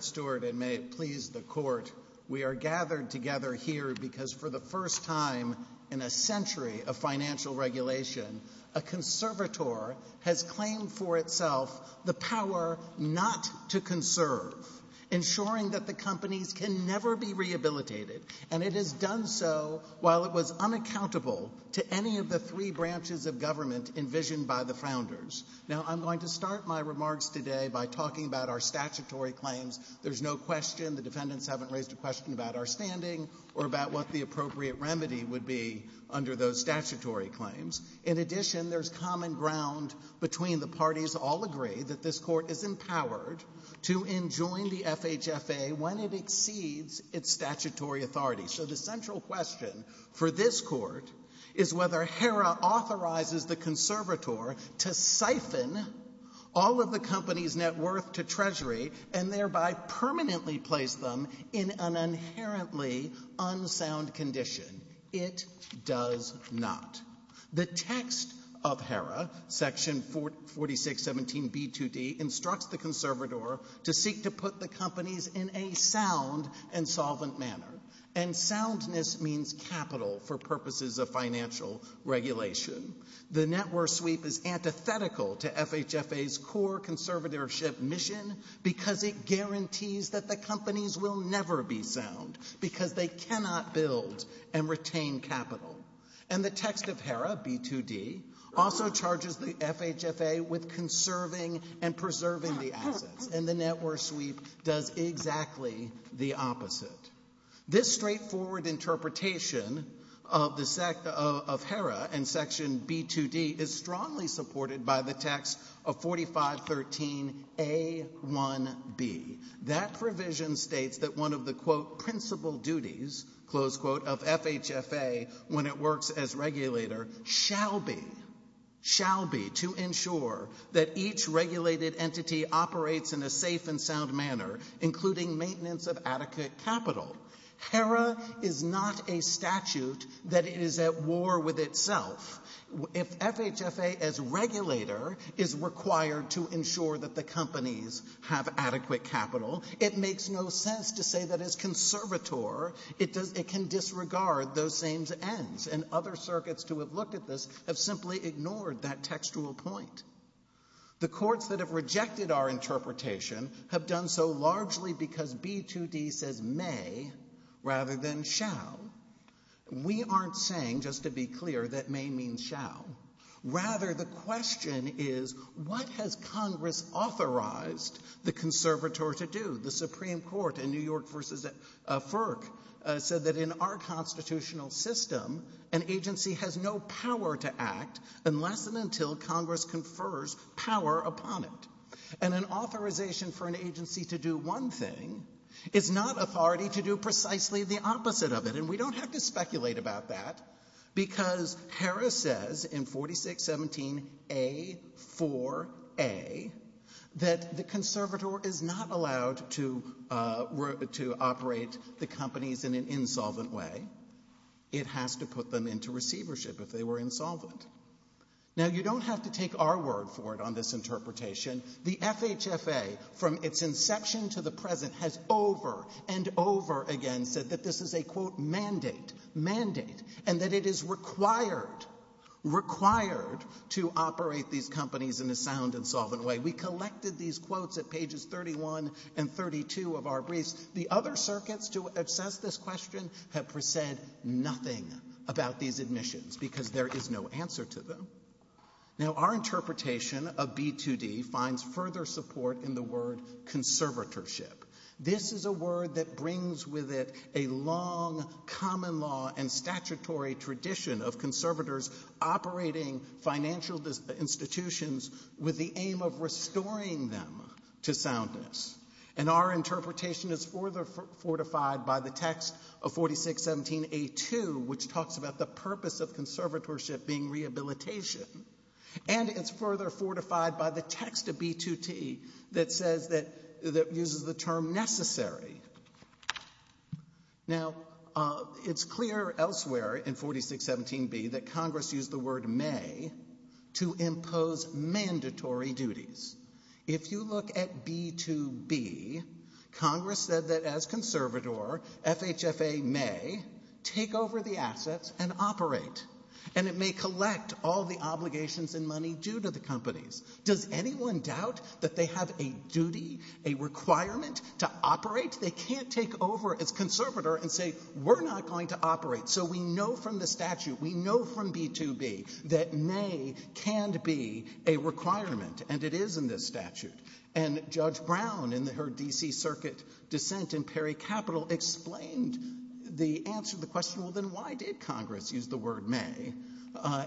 Stewart, and may it please the Court, we are gathered together here because for the first time in a century of financial regulation, a conservator has claimed for itself the power not to conserve, ensuring that the companies can never be rehabilitated, and it has done so while it was unaccountable to any of the three branches of government envisioned by the founders. Now, I'm going to start my remarks today by talking about our statutory claims. There's no question the defendants haven't raised a question about our standing or about what the appropriate remedy would be under those statutory claims. In addition, there's common ground between the parties all agree that this Court is empowered to enjoin the FHFA when it exceeds its statutory authority. So the central question for this Court is whether HERA authorizes the conservator to siphon all of the company's net worth to Treasury and thereby permanently place them in an inherently unsound condition. It does not. The text of HERA, section 4617b2d, instructs the conservator to seek to put the companies in a sound and solvent manner, and soundness means capital for purposes of financial regulation. The net worth sweep is antithetical to FHFA's core conservatorship mission because it and retain capital. And the text of HERA, b2d, also charges the FHFA with conserving and preserving the assets, and the net worth sweep does exactly the opposite. This straightforward interpretation of HERA and section b2d is strongly supported by the text of 4513a1b. That provision states that one of the, quote, principal duties, close quote, of FHFA when it works as regulator shall be, shall be to ensure that each regulated entity operates in a safe and sound manner, including maintenance of adequate capital. HERA is not a statute that is at war with itself. If FHFA as to say that as conservator, it can disregard those same ends, and other circuits to have looked at this have simply ignored that textual point. The courts that have rejected our interpretation have done so largely because b2d says may rather than shall. We aren't saying, just to be clear, that may means shall. Rather, the question is what has Congress authorized the conservator to do, the Supreme Court in New York versus FERC said that in our constitutional system, an agency has no power to act unless and until Congress confers power upon it. And an authorization for an agency to do one thing is not authority to do precisely the opposite of it, and we don't have to speculate about that, because HERA says in 4617A4A that the conservator is not allowed to operate the companies in an insolvent way. It has to put them into receivership if they were insolvent. Now, you don't have to take our word for it on this interpretation. The FHFA, from its inception to the present, has over and over again said that this is a, quote, mandate, mandate, and that it is required, required to operate these companies in a sound, insolvent way. We collected these quotes at pages 31 and 32 of our briefs. The other circuits to assess this question have said nothing about these admissions because there is no answer to them. Now, our interpretation of b2d finds further support in the word conservatorship. This is a word that brings with it a long common law and statutory tradition of conservators operating financial institutions with the aim of restoring them to soundness, and our interpretation is further fortified by the text of 4617A2, which talks about the purpose of conservatorship being rehabilitation, and it's further fortified by the b2t that says that, that uses the term necessary. Now, it's clear elsewhere in 4617B that Congress used the word may to impose mandatory duties. If you look at b2b, Congress said that as conservator, FHFA may take over the assets and operate, and it may collect all the obligations and money due to companies. Does anyone doubt that they have a duty, a requirement to operate? They can't take over as conservator and say, we're not going to operate. So we know from the statute, we know from b2b that may can be a requirement, and it is in this statute, and Judge Brown in her DC Circuit dissent in Perry Capital explained the answer to the question, well, then why did Congress use the may,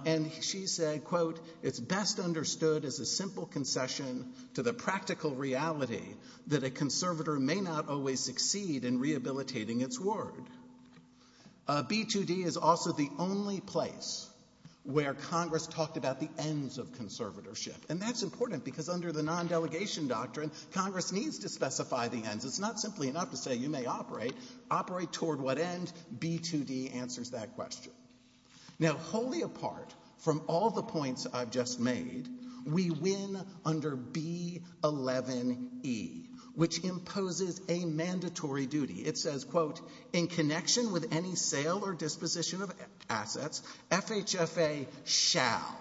and she said, quote, it's best understood as a simple concession to the practical reality that a conservator may not always succeed in rehabilitating its word. B2d is also the only place where Congress talked about the ends of conservatorship, and that's important, because under the non-delegation doctrine, Congress needs to specify the ends. It's not simply enough to say you may operate. Operate toward what end? B2d answers that question. Now, wholly apart from all the points I've just made, we win under B11e, which imposes a mandatory duty. It says, quote, in connection with any sale or disposition of assets, FHFA shall,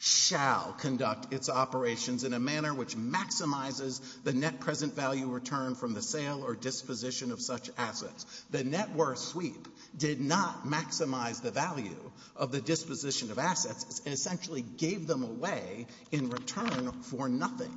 shall conduct its operations in a manner which maximizes the net present value return from the sale or disposition of such assets. The net worth sweep did not maximize the value of the disposition of assets. It essentially gave them away in return for nothing.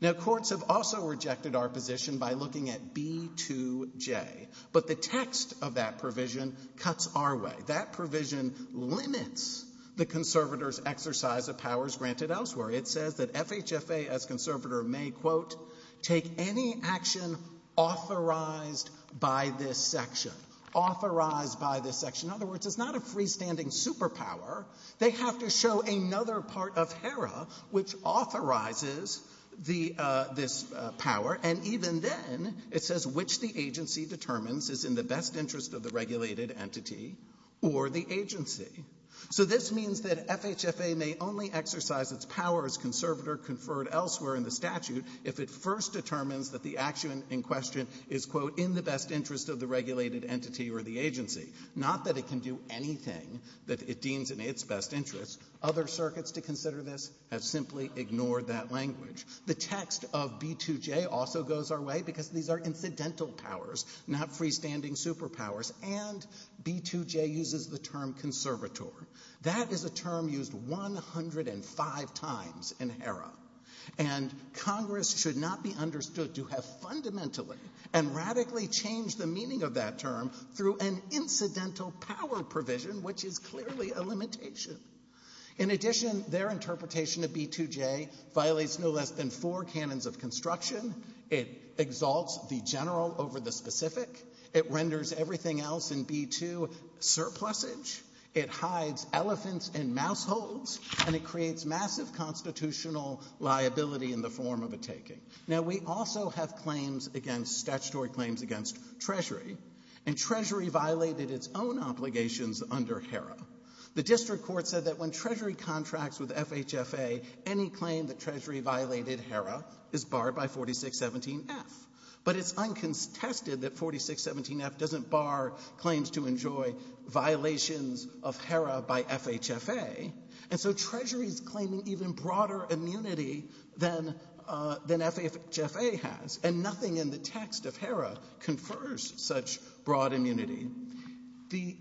Now, courts have also rejected our position by looking at B2j, but the text of that provision cuts our way. That provision limits the conservator's exercise of powers granted elsewhere. It says that FHFA as conservator may, quote, take any action authorized by this section. Authorized by this section. In other words, it's not a freestanding superpower. They have to show another part of HERA which authorizes this power, and even then, it says which the agency determines is in the best interest of the regulated entity or the agency. So this means that FHFA may only exercise its power as conservator conferred elsewhere in the statute if it first determines that the action in question is, quote, in the best interest of the regulated entity or the agency, not that it can do anything that it deems in its best interest. Other circuits to consider this have simply ignored that language. The text of B2j also goes our way because these are incidental powers, not freestanding superpowers. And B2j uses the term conservator. That is a term used 105 times in HERA. And Congress should not be understood to have fundamentally and radically changed the meaning of that term through an incidental power provision, which is clearly a limitation. In addition, their interpretation of B2j violates no less than four canons of construction. It exalts the general over the specific. It renders everything else in B2 surplusage. It hides elephants and mouse holes. And it creates massive constitutional liability in the form of a taking. Now, we also have claims against, statutory claims against Treasury. And Treasury violated its own obligations under HERA. The district court said that when Treasury contracts with FHFA, any claim that Treasury violated HERA is barred by 4617F. But it's uncontested that 4617F doesn't bar claims to enjoy violations of HERA by FHFA. And so Treasury's claiming even broader immunity than FHFA has. And nothing in the text of HERA confers such broad immunity. The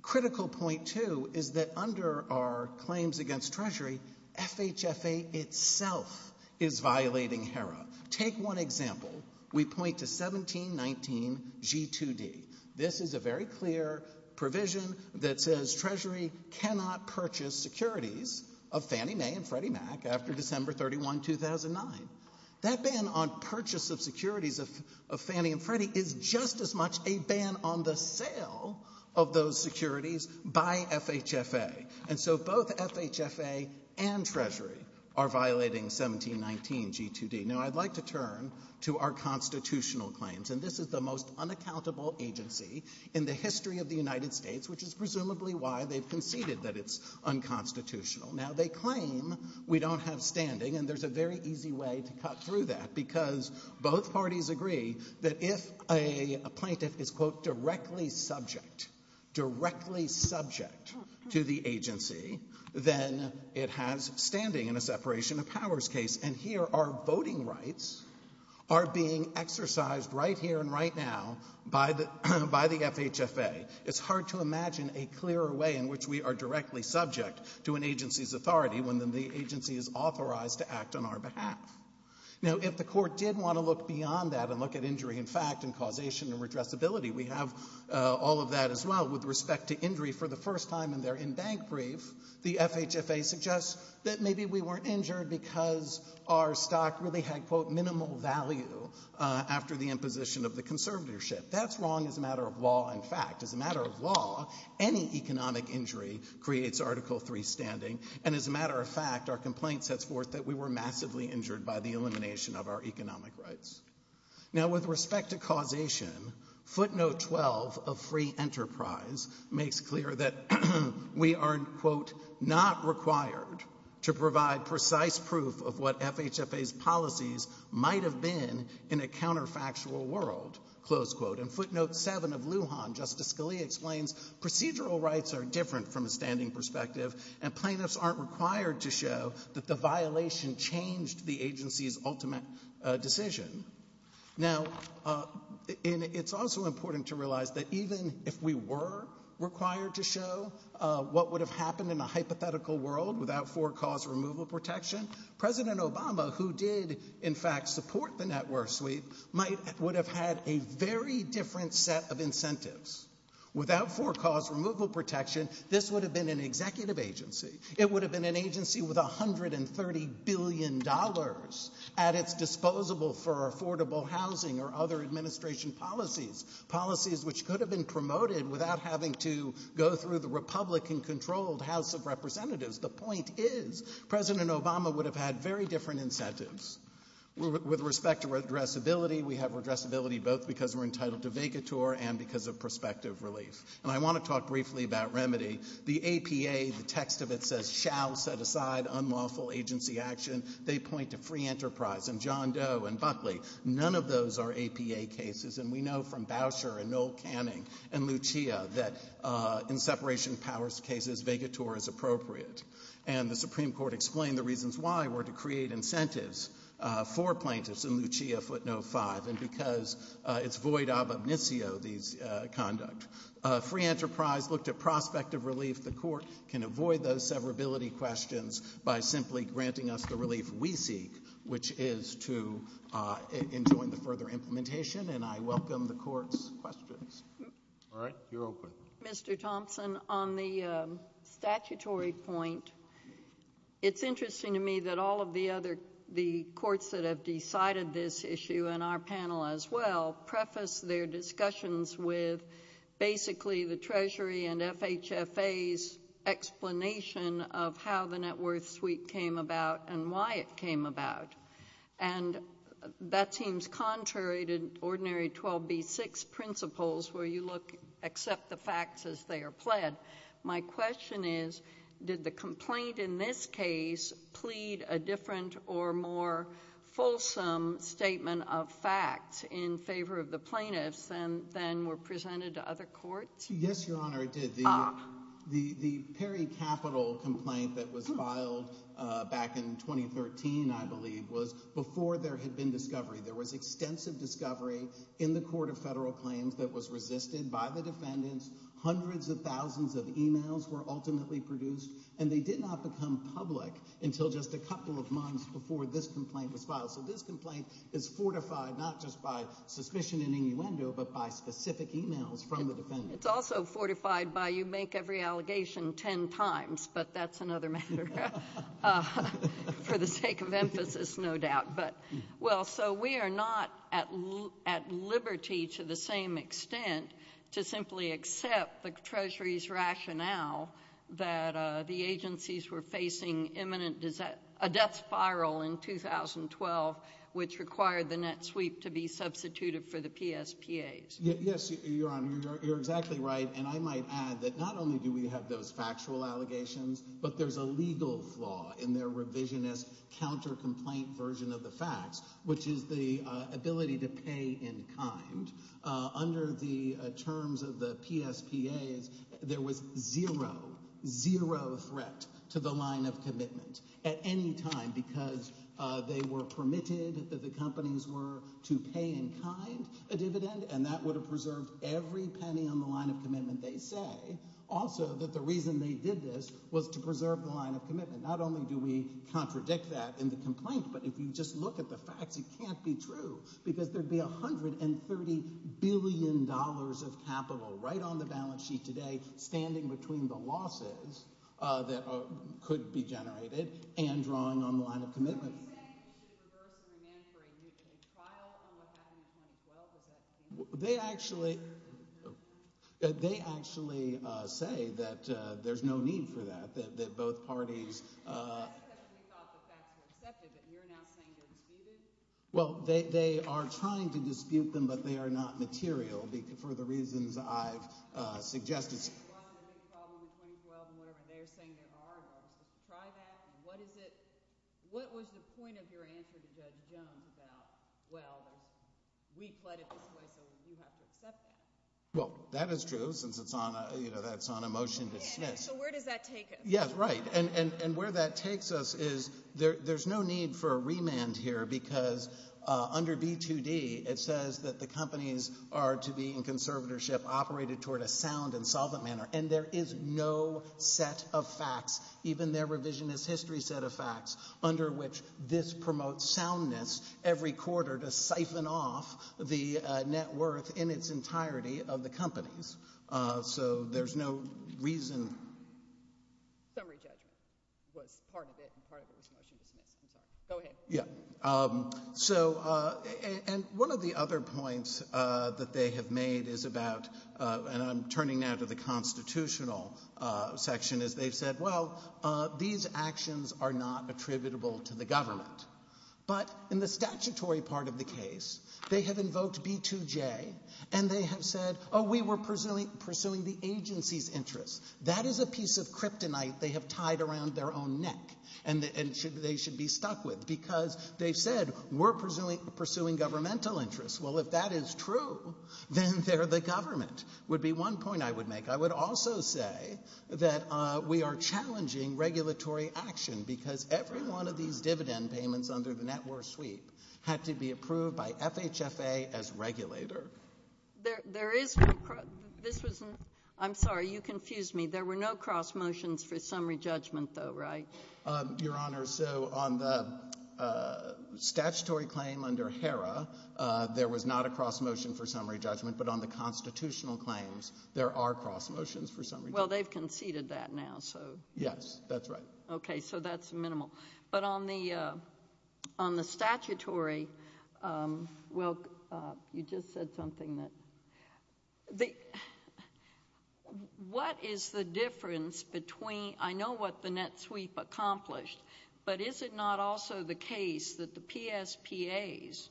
critical point, too, is that under our claims against Treasury, FHFA itself is violating HERA. Take one example. We point to 1719G2D. This is a very clear provision that says Treasury cannot purchase securities of Fannie Mae and Freddie Mac after December 31, 2009. That ban on purchase of securities of Fannie and Freddie is just as much a ban on the sale of those securities by FHFA. And so both FHFA and Treasury are violating 1719G2D. Now, I'd like to turn to our constitutional claims. And this is the most unaccountable agency in the history of the United States, which is presumably why they've conceded that it's unconstitutional. Now, they claim we don't have standing. And there's a very easy way to cut through that, because both parties agree that if a plaintiff is, quote, directly subject, directly subject to the agency, then it has standing in a separation of powers case. And here our voting rights are being exercised right here and right now by the FHFA. It's hard to imagine a clearer way in which we are directly subject to an agency's authority when the agency is authorized to act on our behalf. Now, if the court did want to look beyond that and look at injury in fact and causation and redressability, we have all of that as well. With respect to injury for the first time in their in-bank brief, the FHFA suggests that maybe we weren't injured because our stock really had, quote, minimal value after the imposition of the conservatorship. That's wrong as a matter of law, in fact. As a matter of law, any economic injury creates Article III standing. And as a matter of that we were massively injured by the elimination of our economic rights. Now, with respect to causation, footnote 12 of free enterprise makes clear that we are, quote, not required to provide precise proof of what FHFA's policies might have been in a counterfactual world, close quote. And footnote 7 of Lujan, Justice Scalia explains procedural rights are different from a standing perspective and plaintiffs aren't required to show that the violation changed the agency's ultimate decision. Now, it's also important to realize that even if we were required to show what would have happened in a hypothetical world without forecast removal protection, President Obama, who did in fact support the net worth sweep, might would have had a very different set of incentives. Without forecast removal protection, this would have been an executive agency. It would have been an agency with $130 billion at its disposable for affordable housing or other administration policies. Policies which could have been promoted without having to go through the Republican controlled House of Representatives. The point is, President Obama would have had very different incentives. With respect to addressability, we have addressability both because we're entitled to vacatur and because of prospective relief. And I want to talk briefly about remedy. The APA, the text of it says, shall set aside unlawful agency action. They point to free enterprise and John Doe and Buckley. None of those are APA cases and we know from Boucher and Noel Canning and Lucia that in separation of powers cases, vacatur is appropriate. And the Supreme Court explained the reasons why were to create incentives for plaintiffs in Lucia footnote 5 and because it's void of omnisio, these conduct. Free enterprise looked at prospective relief. The court can avoid those severability questions by simply granting us the relief we seek, which is to enjoin the further implementation. And I welcome the court's questions. All right, you're open. Mr. Thompson, on the statutory point, it's interesting to me that all of the other, that have decided this issue and our panel as well, preface their discussions with basically the treasury and FHFA's explanation of how the net worth suite came about and why it came about. And that seems contrary to ordinary 12B6 principles where you look, accept the facts as they are My question is, did the complaint in this case plead a different or more fulsome statement of facts in favor of the plaintiffs than were presented to other courts? Yes, Your Honor, it did. The Perry Capital complaint that was filed back in 2013, I believe, was before there had been discovery. There was extensive discovery in the Court of Federal emails were ultimately produced and they did not become public until just a couple of months before this complaint was filed. So this complaint is fortified not just by suspicion and innuendo, but by specific emails from the defendants. It's also fortified by you make every allegation 10 times, but that's another matter for the sake of emphasis, no doubt. But well, so we are not at liberty to the same extent to simply accept the treasury's rationale that the agencies were facing imminent, a death spiral in 2012, which required the net sweep to be substituted for the PSPAs. Yes, Your Honor, you're exactly right. And I might add that not only do we have those factual allegations, but there's a legal flaw in their revisionist counter-complaint version of facts, which is the ability to pay in kind. Under the terms of the PSPAs, there was zero, zero threat to the line of commitment at any time because they were permitted that the companies were to pay in kind a dividend and that would have preserved every penny on the line of commitment they say. Also, that the reason they did this was to preserve the line of commitment. Not only do we look at the facts, it can't be true because there'd be $130 billion of capital right on the balance sheet today, standing between the losses that could be generated and drawing on the line of commitment. They actually, they actually say that there's no need for that, that both parties Well, they are trying to dispute them, but they are not material for the reasons I've suggested. Well, that is true since it's on a, you know, that's on a motion to dismiss. So where does that take us? Right. And where that takes us is there's no need for a remand here because under B2D, it says that the companies are to be in conservatorship, operated toward a sound and solvent manner. And there is no set of facts, even their revisionist history set of facts, under which this promotes soundness every quarter to siphon off the net worth in its entirety of the companies. So there's no reason. Summary judgment was part of it and part of it was motion dismissed. I'm sorry. Go ahead. Yeah. So, and one of the other points that they have made is about, and I'm turning now to the constitutional section, is they've said, well, these actions are not attributable to the government. But in the statutory part of the case, they have invoked B2J and they have said, oh, we were pursuing the agency's interests. That is a piece of kryptonite they have tied around their own neck and they should be stuck with because they've said, we're pursuing governmental interests. Well, if that is true, then they're the government, would be one point I would make. I would also say that we are challenging regulatory action because every one of these dividend payments under the net worth sweep had to be approved by FHFA as regulator. There is, this was, I'm sorry, you confused me. There were no cross motions for summary judgment though, right? Your Honor, so on the statutory claim under HERA, there was not a cross motion for summary judgment, but on the constitutional claims, there are cross motions for summary. Well, they've conceded that now, so. Yes, that's right. Okay. So that's minimal. But on the statutory, well, you just said something that, what is the difference between, I know what the net sweep accomplished, but is it not also the case that the PSPAs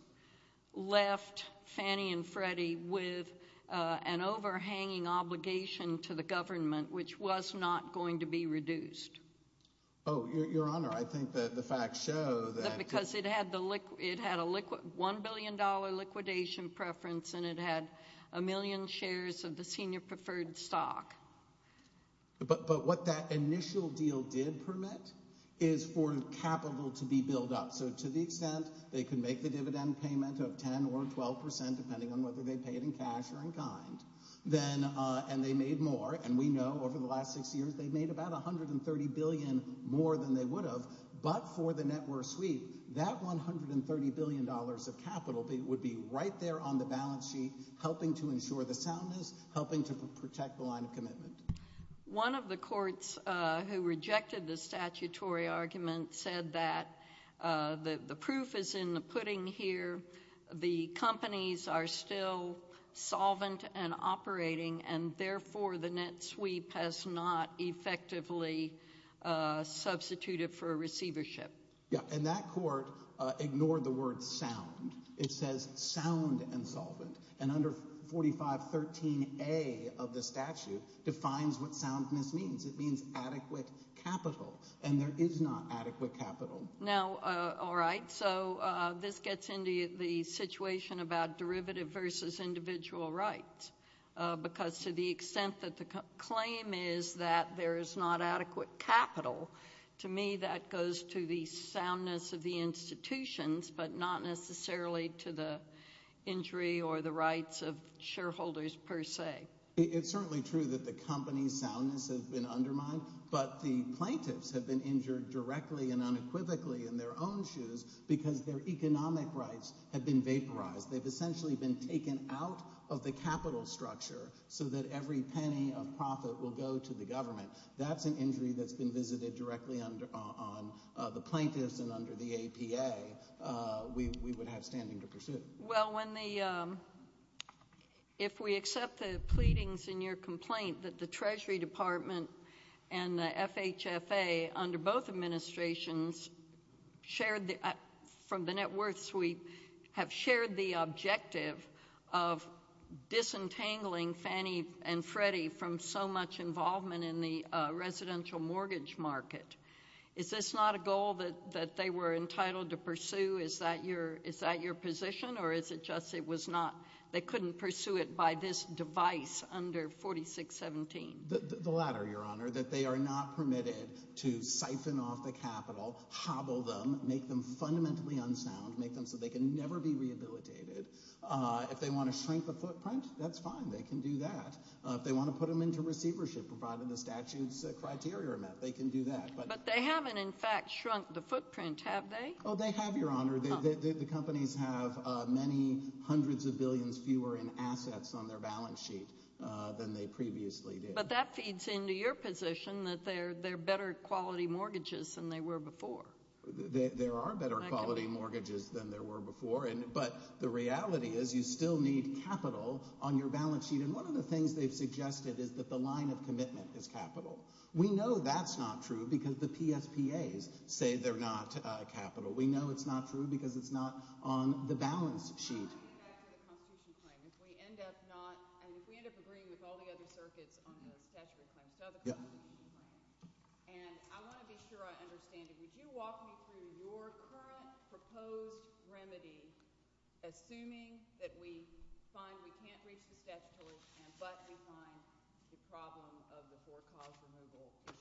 left Fannie and Freddie with an overhanging obligation to the government, which was not going to be reduced? Oh, Your Honor, I think that the facts show that. Because it had a $1 billion liquidation preference and it had a million shares of the senior preferred stock. But what that initial deal did permit is for capital to be built up. So to the extent they could make the dividend payment of 10 or 12%, depending on whether they pay it in cash or in kind, and they made more, and we know over the last six years, they've made about $130 billion more than they would have. But for the net worth sweep, that $130 billion of capital would be right there on the balance sheet, helping to ensure the soundness, helping to protect the line of commitment. One of the courts who rejected the statutory argument said that the proof is in the pudding here. The companies are still solvent and operating, and therefore the net sweep has not effectively substituted for a receivership. Yeah, and that court ignored the word sound. It says sound and solvent. And under 4513A of the statute defines what soundness means. It means adequate capital. And there is not adequate capital. Now, all right, so this gets into the situation about derivative versus individual rights. Because to the extent that the claim is that there is not adequate capital, to me that goes to the soundness of the institutions, but not necessarily to the injury or the rights of the companies soundness has been undermined, but the plaintiffs have been injured directly and unequivocally in their own shoes because their economic rights have been vaporized. They've essentially been taken out of the capital structure so that every penny of profit will go to the government. That's an injury that's been visited directly on the plaintiffs and under the Treasury Department and the FHFA under both administrations from the net worth sweep have shared the objective of disentangling Fannie and Freddie from so much involvement in the residential mortgage market. Is this not a goal that they were entitled to pursue? Is that your position, or is it just it was not they couldn't pursue it by this device under 4617? The latter, Your Honor, that they are not permitted to siphon off the capital, hobble them, make them fundamentally unsound, make them so they can never be rehabilitated. If they want to shrink the footprint, that's fine, they can do that. If they want to put them into receivership provided the statute's criteria are met, they can do that. But they haven't in fact shrunk the footprint, have they? Oh, they have, Your Honor. The companies have many hundreds of billions fewer in assets on their balance sheet than they previously did. But that feeds into your position that they're better quality mortgages than they were before. There are better quality mortgages than there were before, but the reality is you still need capital on your balance sheet. And one of the things they've suggested is that the line of commitment is capital. We know that's not true because the PSPAs say they're not capital. We know it's not true because it's not on the balance sheet. I want to get back to the Constitution claim. If we end up not, if we end up agreeing with all the other circuits on the statutory claims to other companies, and I want to be sure I understand it. Would you walk me through your current proposed remedy, assuming that we find we can't reach the statutory stand, but we find the problem of the four-cause removal issue.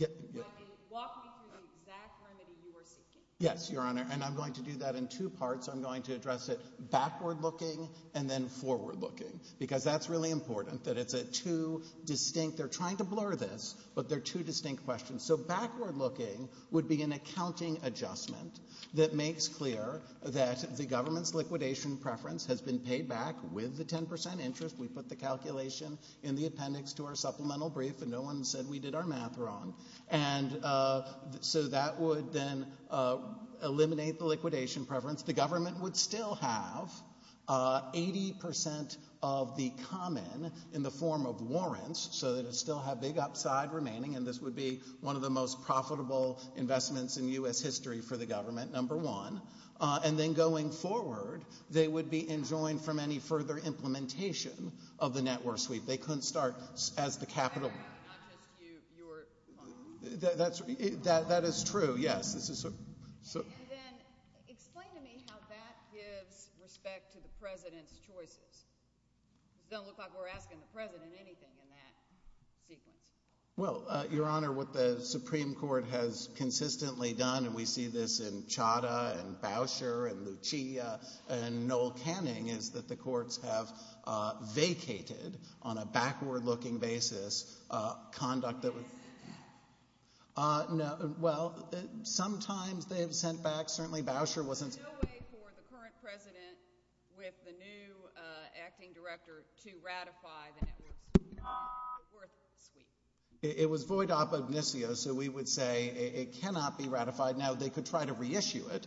I mean, walk me through the exact remedy you are seeking. Yes, Your Honor, and I'm going to do that in two parts. I'm going to address it backward-looking and then forward-looking, because that's really important that it's a two distinct, they're trying to blur this, but they're two distinct questions. So backward-looking would be an accounting adjustment that makes clear that the government's liquidation preference has been paid back with the 10 percent interest. We put the calculation in the appendix to our supplemental brief and no one said we did our math wrong. And so that would then eliminate the liquidation preference. The government would still have 80 percent of the common in the form of warrants, so that it still had big upside remaining, and this would be one of the most profitable investments in U.S. history for the government, number one. And then going forward, they would be enjoined from any further implementation of the net war sweep. They couldn't start as the capital. Not just you, you were... That's, that is true, yes. And then explain to me how that gives respect to the President's choices. It doesn't look like we're asking the President anything in that sequence. Well, Your Honor, what the Supreme Court has consistently done, and we see this in vacated, on a backward-looking basis, conduct that... No, well, sometimes they have sent back, certainly Bauscher wasn't... There's no way for the current President with the new acting director to ratify the net war sweep. It was void op ognisio, so we would say it cannot be ratified. Now, they could try to reissue it,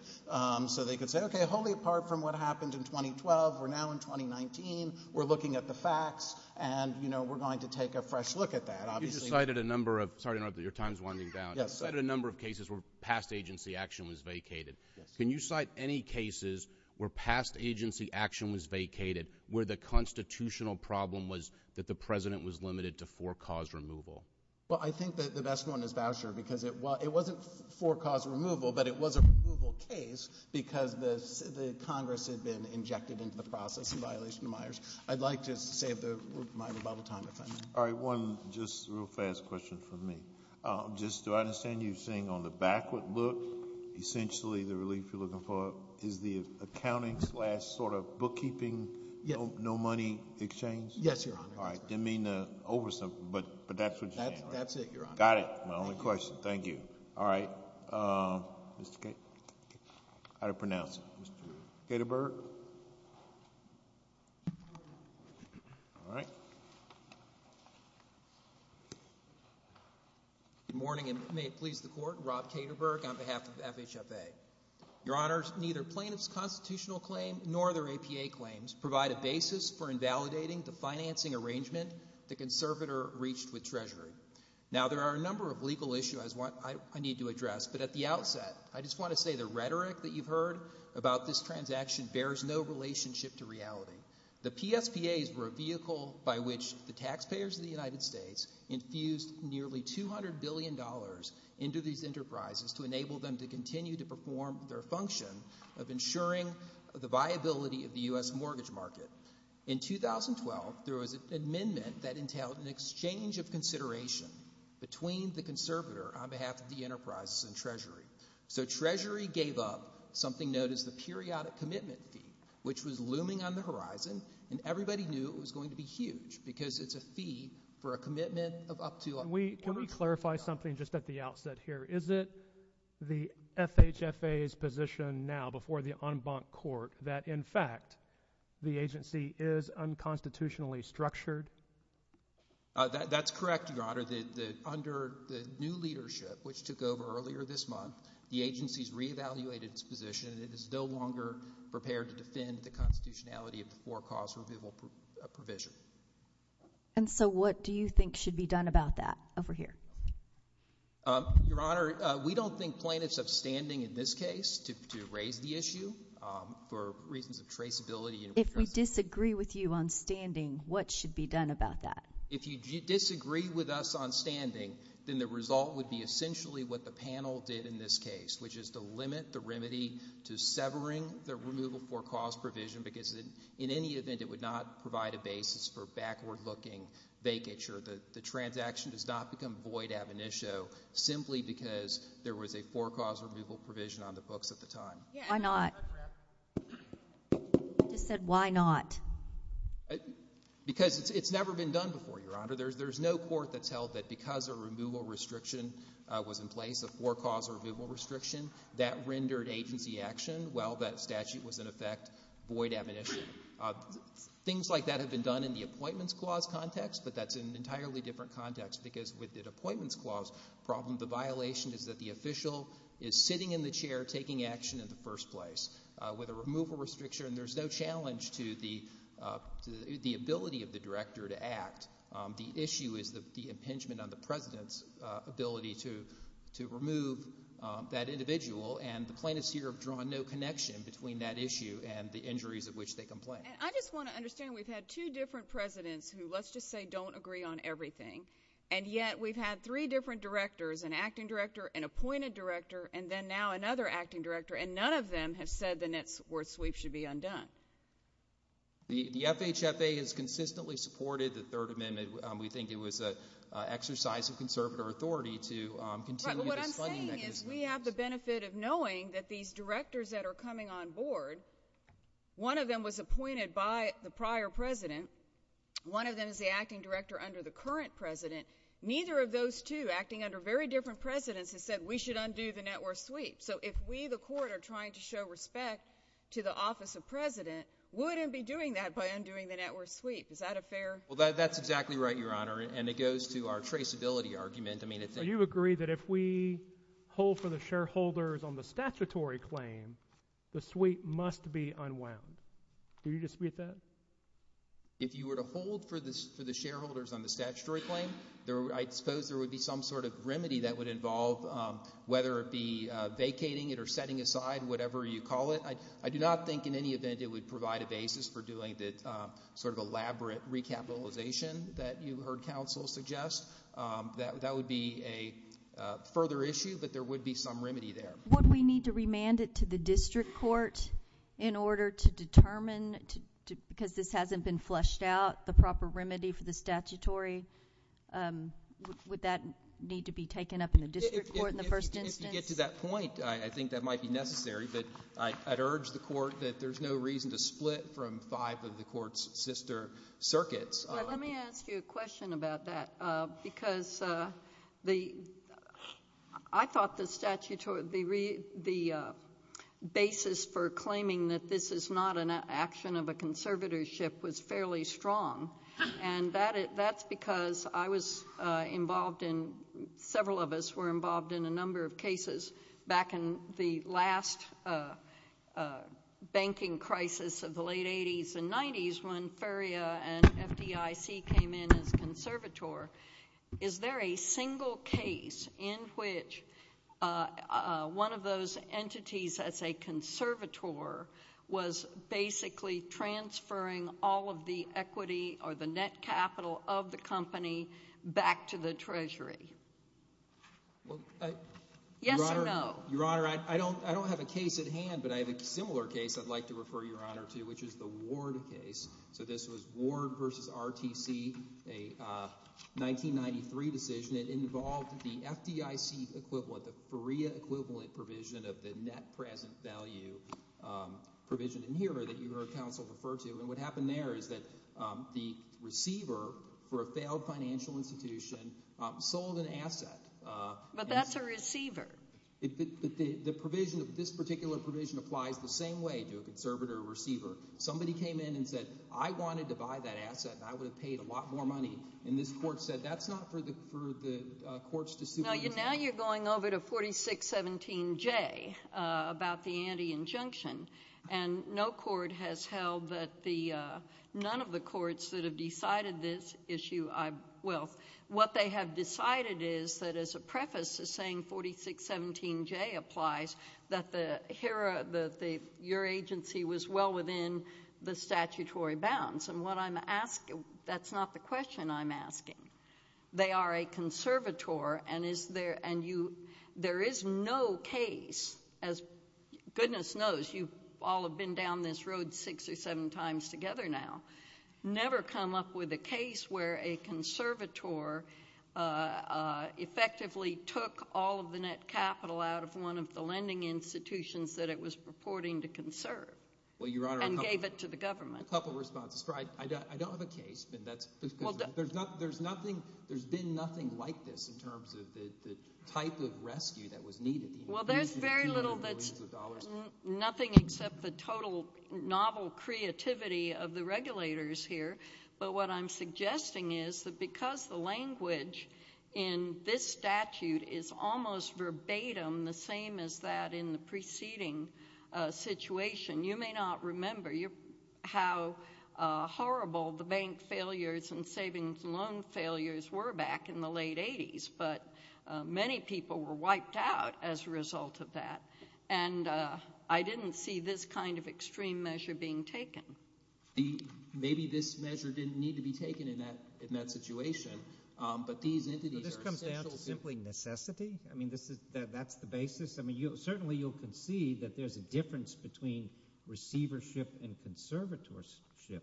so they could say, okay, wholly apart from what happened in 2012, we're now in 2019, we're looking at the facts, and, you know, we're going to take a fresh look at that. You just cited a number of... Sorry, Your Honor, your time's winding down. Yes. Cited a number of cases where past agency action was vacated. Yes. Can you cite any cases where past agency action was vacated, where the constitutional problem was that the President was limited to for-cause removal? Well, I think that the best one is Bauscher, because it wasn't for-cause removal, but it was a removal case, because the Congress had been injected into the process in violation of Myers. I'd like to save my rebuttal time if I may. All right, one just real fast question from me. Just do I understand you're saying on the backward look, essentially the relief you're looking for is the accounting slash sort of bookkeeping, no money exchange? Yes, Your Honor. All right, didn't mean to oversub, but that's what you're saying, right? That's it, Your Honor. Got it. My only question. Thank you. All right. Mr. Caterberg. All right. Good morning, and may it please the Court. Rob Caterberg on behalf of FHFA. Your Honors, neither plaintiff's constitutional claim nor their APA claims provide a basis for invalidating the financing arrangement the conservator reached with Treasury. Now, there are a number of legal issues I need to address, but at the outset, I just want to say the rhetoric that you've heard about this transaction bears no relationship to reality. The PSPAs were a vehicle by which the taxpayers of the United States infused nearly $200 billion into these enterprises to enable them to continue to perform their function of ensuring the viability of the U.S. mortgage market. In 2012, there was an amendment that entailed an exchange of consideration between the conservator on behalf of the enterprises and Treasury. So Treasury gave up something known as the periodic commitment fee, which was looming on the horizon, and everybody knew it was going to be huge because it's a fee for a commitment of up to— Can we clarify something just at the outset here? Is it the FHFA's position now before the en banc court that, in fact, the agency is unconstitutionally structured? That's correct, Your Honor. Under the new leadership, which took over earlier this month, the agency has reevaluated its position and it is no longer prepared to defend the constitutionality of the forecast reviewable provision. And so what do you think should be done about that over here? Your Honor, we don't think plaintiffs have standing in this case to raise the issue for reasons of traceability and— If we disagree with you on standing, what should be done about that? If you disagree with us on standing, then the result would be essentially what the panel did in this case, which is to limit the remedy to severing the removal forecast provision because in any event, it would not provide a basis for backward-looking vacature. The transaction does not become void ab initio simply because there was a forecast removal provision on the books at the time. Why not? You just said, why not? Because it's never been done before, Your Honor. There's no court that's held that because a removal restriction was in place, a forecast removal restriction, that rendered agency action while that statute was in effect void ab initio. Things like that have been done in the Appointments Clause context, but that's an entirely different context because with the Appointments Clause problem, the violation is that the official is sitting in the chair taking action in the first place. With a removal restriction, there's no challenge to the ability of the director to act. The issue is the impingement on the president's ability to remove that individual, and the plaintiffs here have drawn no connection between that issue and the injuries of which they complain. I just want to understand, we've had two different presidents who, let's just say, don't agree on everything, and yet we've had three different directors, an acting director, an appointed director, and then now another acting director, and none of them have said the net worth sweep should be undone. The FHFA has consistently supported the Third Amendment. We think it was an exercise of conservative authority to continue this funding mechanism. Right, but what I'm saying is we have the benefit of knowing that these directors that are coming on board, one of them was appointed by the prior president, one of them is the acting director under the current president, neither of those two acting under very different presidents has said we should undo the net worth sweep. So if we, the Court, are trying to show respect to the office of president, we wouldn't be doing that by undoing the net worth sweep. Is that a fair? Well, that's exactly right, Your Honor, and it goes to our traceability argument. You agree that if we hold for the shareholders on the statutory claim, the sweep must be unwound. Do you dispute that? If you were to hold for the shareholders on the statutory claim, I suppose there would be some sort of remedy that would involve whether it be vacating it or setting aside whatever you call it. I do not think in any event it would provide a basis for doing the sort of elaborate recapitalization that you heard counsel suggest. That would be a further issue, but there would be some remedy there. Would we need to remand it to the district court in order to determine, because this hasn't been fleshed out, the proper remedy for the statutory? Would that need to be taken up in the district court in the first instance? If you get to that point, I think that might be necessary, but I'd urge the Court that there's no reason to split from five of the Court's sister circuits. Let me ask you a question about that, because I thought the basis for claiming that this is not an action of a conservatorship was fairly strong, and that's because I was involved in, several of us were involved in a number of cases back in the last banking crisis of the late 80s and 90s when FERIA and FDIC came in as conservator. Is there a single case in which one of those entities as a conservator was basically transferring all of the equity or the net capital of the company back to the Treasury? Yes or no? Your Honor, I don't have a case at hand, but I have a similar case I'd like to refer Your Honor to, which is the Ward case. So this was Ward versus RTC, a 1993 decision. It involved the FDIC equivalent, the FERIA equivalent provision of the net present value provision in here that your counsel referred to. And what happened there is that the receiver for a failed financial institution sold an asset. But that's a receiver. The provision of this particular provision applies the same way to a conservator receiver. Somebody came in and said, I wanted to buy that asset and I would have paid a lot more money. And this Court said that's not for the Courts to sue. Now you're going over to 4617J about the anti-injunction. And no Court has held that the, none of the Courts that have decided this issue, well, what they have decided is that as a preface is saying 4617J applies, that your agency was well within the statutory bounds. And what I'm asking, that's not the question I'm asking. They are a conservator and is there, and you, there is no case, as goodness knows, you all have been down this road six or seven times together now, never come up with a case where a conservator effectively took all of the net capital out of one of the lending institutions that it was purporting to conserve and gave it to the government. I have a couple of responses. For I don't have a case, but that's because there's nothing, there's been nothing like this in terms of the type of rescue that was needed. Well, there's very little that's, nothing except the total novel creativity of the regulators here. But what I'm suggesting is that because the language in this statute is almost verbatim the same as that in the preceding situation, you may not remember how horrible the bank failures and savings loan failures were back in the late 80s. But many people were wiped out as a result of that. And I didn't see this kind of extreme measure being taken. The, maybe this measure didn't need to be taken in that, in that situation. But these entities are essential. So this comes down to simply necessity? I mean, this is, that's the basis? I mean, you'll certainly, you'll concede that there's a difference between receivership and conservatorship,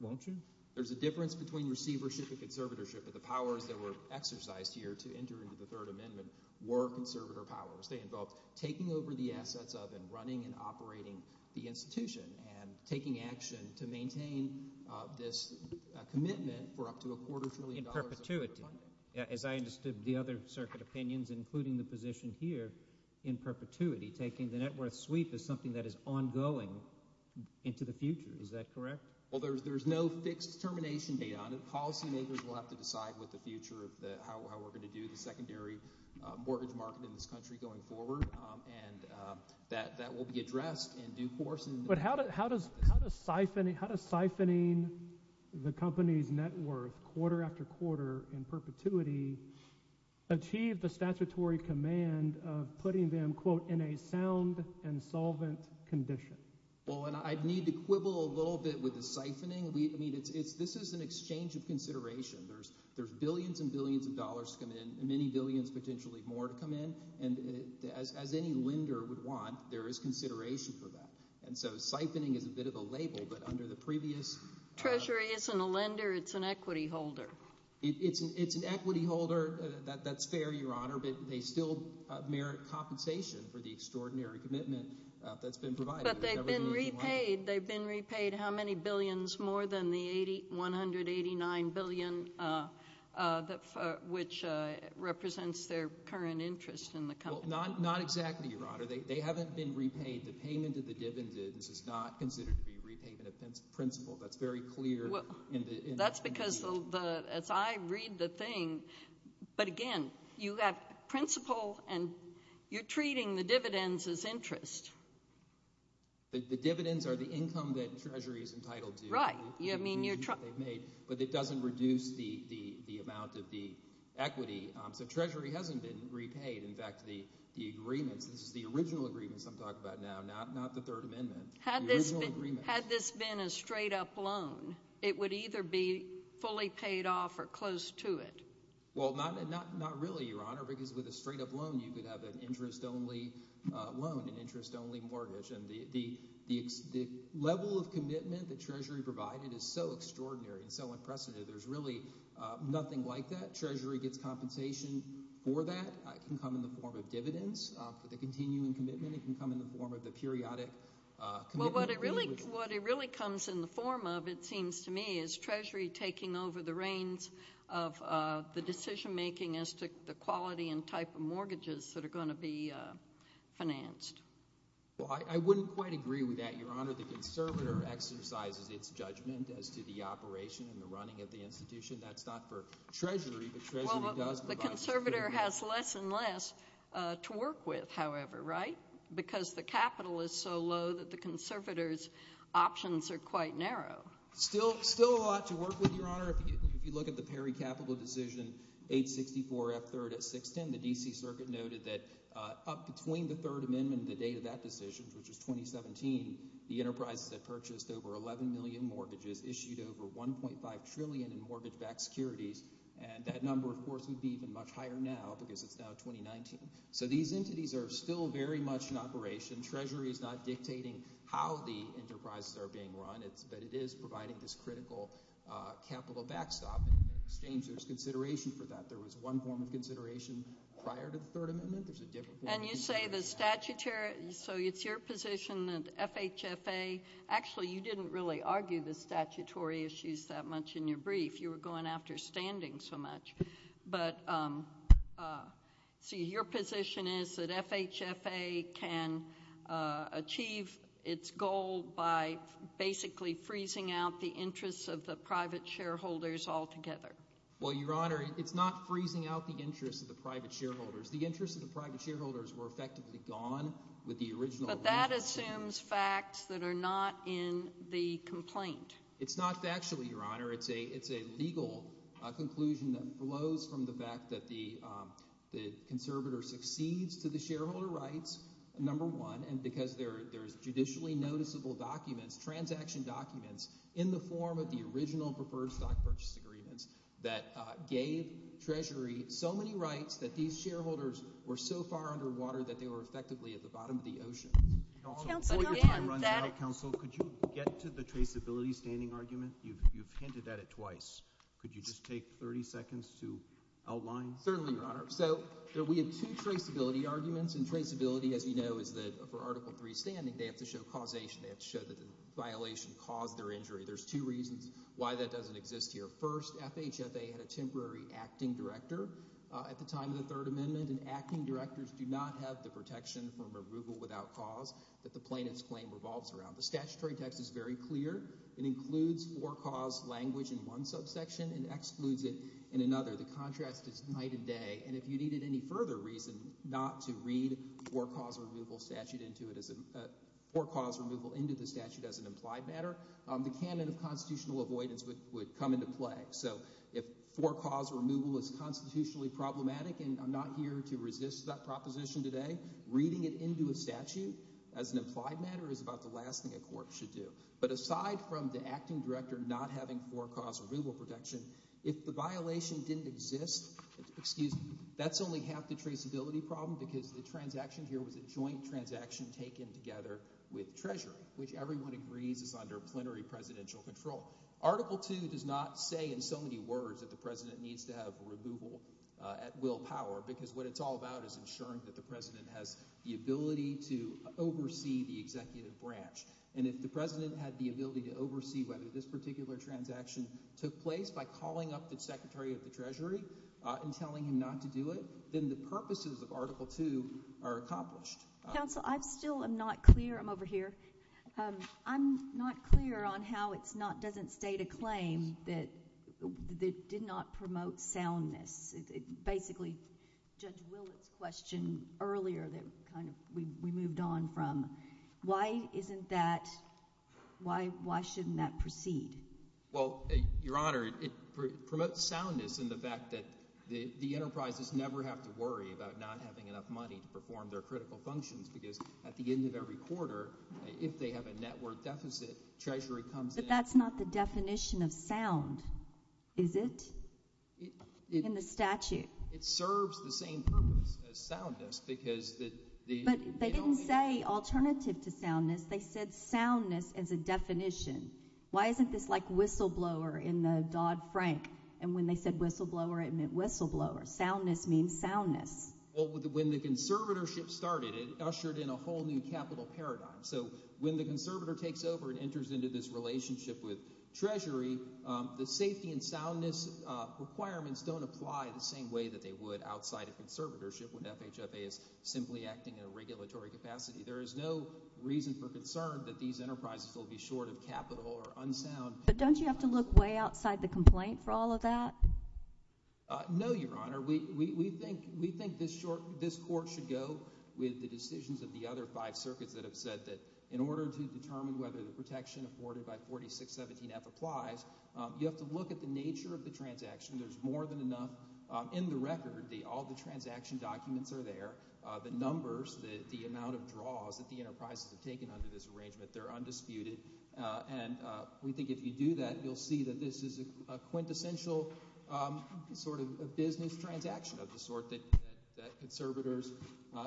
won't you? There's a difference between receivership and conservatorship, but the powers that were exercised here to enter into the Third Amendment were conservator powers. They involved taking over the assets of and running and operating the institution and taking action to maintain this commitment for up to a quarter trillion dollars. In perpetuity. As I understood the other circuit opinions, including the position here in perpetuity, taking the net worth sweep is something that is ongoing into the future. Is that correct? Well, there's, there's no fixed termination date on it. Policymakers will have to decide what the future of the, how we're going to do the secondary mortgage market in this country going forward. And that, that will be addressed in due course. But how does, how does, how does siphoning, how does siphoning the company's net worth quarter after quarter in perpetuity achieve the statutory command of putting them, quote, in a sound and solvent condition? Well, and I need to quibble a little bit with the siphoning. We, I mean, it's, it's, this is an exchange of consideration. There's, there's billions and billions of dollars come in and many billions, potentially more to come in. And as, as any lender would want, there is consideration for that. And so siphoning is a bit of a label, but under the previous... Treasury isn't a lender. It's an equity holder. It's an, it's an equity holder. That, that's fair, Your Honor. But they still merit compensation for the extraordinary commitment that's been provided. But they've been repaid. They've been repaid how many billions? More than the 80, 189 billion, which represents their current interest in the company. Not, not exactly, Your Honor. They haven't been repaid. The payment of the dividends is not considered to be repayment of principal. That's very clear in the... That's because the, as I read the thing, but again, you have principal and you're treating the dividends as interest. The dividends are the income that Treasury is entitled to. Right. I mean, you're trying... But it doesn't reduce the, the, the amount of the equity. So Treasury hasn't been repaid. In fact, the, the agreements, this is the original agreements I'm talking about now, not, not the Third Amendment. Had this been, had this been a straight up loan, it would either be fully paid off or close to it. Well, not, not, not really, Your Honor, because with a straight up loan, you could have an interest only loan, an interest only mortgage. And the, the, the level of commitment that Treasury provided is so extraordinary and so unprecedented. There's really nothing like that. Treasury gets compensation for that. It can come in the form of dividends for the continuing commitment. It can come in the form of the periodic commitment... Well, what it really, what it really comes in the form of, it seems to me, is Treasury taking over the reins of the decision making as to the quality and type of mortgages that are going to be financed. Well, I, I wouldn't quite agree with that, Your Honor. The conservator exercises its judgment as to the operation and the running of the institution. That's not for Treasury, but Treasury does provide... The conservator has less and less to work with, however, right? Because the capital is so low that the conservator's options are quite narrow. Still, still a lot to work with, Your Honor. If you look at the Perry Capital decision, 864F3rd at 610, the D.C. Circuit noted that up between the Third Amendment and the date of that decision, which was 2017, the enterprises had purchased over 11 million mortgages, issued over 1.5 trillion in mortgage-backed securities, and that number, of course, would be even much higher now because it's now 2019. So these entities are still very much in operation. Treasury is not dictating how the enterprises are being run, but it is providing this critical capital backstop. In exchange, there's consideration for that. There was one form of consideration prior to the Third Amendment. There's a different form... And you say the statutory... So it's your position that FHFA... Actually, you didn't really argue the statutory issues that much in your brief. You were going after standing so much. But, see, your position is that FHFA can achieve its goal by basically freezing out the interests of the private shareholders altogether. Well, Your Honor, it's not freezing out the interests of the private shareholders. The interests of the private shareholders were effectively gone with the original... But that assumes facts that are not in the complaint. It's not factual, Your Honor. It's a legal conclusion that flows from the fact that the conservator succeeds to the shareholder rights, number one, and because there's judicially noticeable documents, transaction documents, in the form of the original preferred stock purchase agreements that gave Treasury so many rights that these shareholders were so far underwater that they were effectively at the bottom of the ocean. Counsel, before your time runs out, Counsel, could you get to the traceability standing argument? You've hinted at it twice. Could you just take 30 seconds to outline? Certainly, Your Honor. So we have two traceability arguments. And traceability, as you know, is that for Article III standing, they have to show causation. They have to show that the violation caused their injury. There's two reasons why that doesn't exist here. First, FHFA had a temporary acting director at the time of the Third Amendment. And acting directors do not have the protection from arrugal without cause that the plaintiff's claim revolves around. The statutory text is very clear. It includes for-cause language in one subsection and excludes it in another. The contrast is night and day. And if you needed any further reason not to read for-cause removal into the statute as an implied matter, the canon of constitutional avoidance would come into play. So if for-cause removal is constitutionally problematic, and I'm not here to resist that proposition today, reading it into a statute as an implied matter is about the last thing a court should do. But aside from the acting director not having for-cause removal protection, if the violation didn't exist, excuse me, that's only half the traceability problem because the transaction here was a joint transaction taken together with Treasury, which everyone agrees is under plenary presidential control. Article II does not say in so many words that the president needs to have removal at will power because what it's all about is ensuring that the president has the ability to oversee the executive branch. And if the president had the ability to oversee whether this particular transaction took place by calling up the secretary of the Treasury and telling him not to do it, then the purposes of Article II are accomplished. Counsel, I still am not clear. I'm over here. I'm not clear on how it doesn't state a claim that did not promote soundness. Basically, Judge Willett's question earlier that we moved on from, why shouldn't that proceed? Well, Your Honor, it promotes soundness in the fact that the enterprises never have to worry about not having enough money to perform their critical functions because at the end of every quarter, if they have a net worth deficit, Treasury comes in. But that's not the definition of sound, is it? In the statute. It serves the same purpose as soundness because... But they didn't say alternative to soundness. They said soundness as a definition. Why isn't this like whistleblower in the Dodd-Frank? And when they said whistleblower, it meant whistleblower. Soundness means soundness. Well, when the conservatorship started, it ushered in a whole new capital paradigm. So when the conservator takes over and enters into this relationship with Treasury, the safety and soundness requirements don't apply the same way that they would outside of conservatorship when FHFA is simply acting in a regulatory capacity. There is no reason for concern that these enterprises will be short of capital or unsound. But don't you have to look way outside the complaint for all of that? No, Your Honor. We think this court should go with the decisions of the other five circuits that have said that in order to determine whether the protection afforded by 4617F applies, you have to look at the nature of the transaction. There's more than enough in the record. All the transaction documents are there. The numbers, the amount of draws that the enterprises have taken under this arrangement, they're undisputed. And we think if you do that, you'll see that this is a quintessential sort of business transaction of the sort that conservators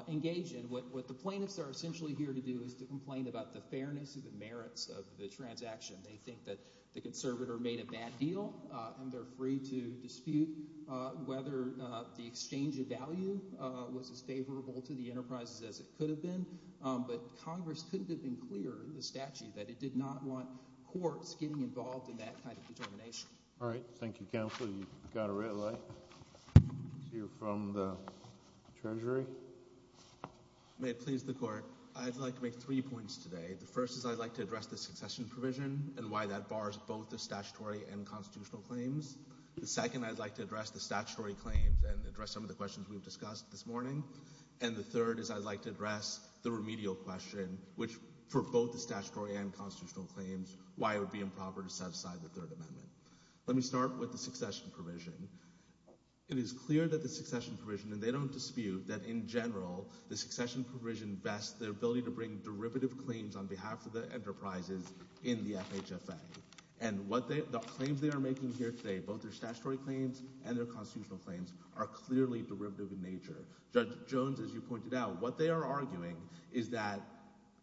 engage in. What the plaintiffs are essentially here to do is to complain about the fairness of the merits of the transaction. They think that the conservator made a bad deal, and they're free to dispute whether the exchange of value was as favorable to the enterprises as it could have been. But Congress couldn't have been clearer in the statute that it did not want courts getting involved in that kind of determination. All right. Thank you, counsel. You've got a red light. You're from the Treasury. May it please the Court. I'd like to make three points today. The first is I'd like to address the succession provision and why that bars both the statutory and constitutional claims. The second, I'd like to address the statutory claims and address some of the questions we've discussed this morning. And the third is I'd like to address the remedial question, which for both the statutory and constitutional claims, why it would be improper to set aside the Third Amendment. Let me start with the succession provision. It is clear that the succession provision, and they don't dispute that in general, the enterprises in the FHFA. And the claims they are making here today, both their statutory claims and their constitutional claims, are clearly derivative in nature. Judge Jones, as you pointed out, what they are arguing is that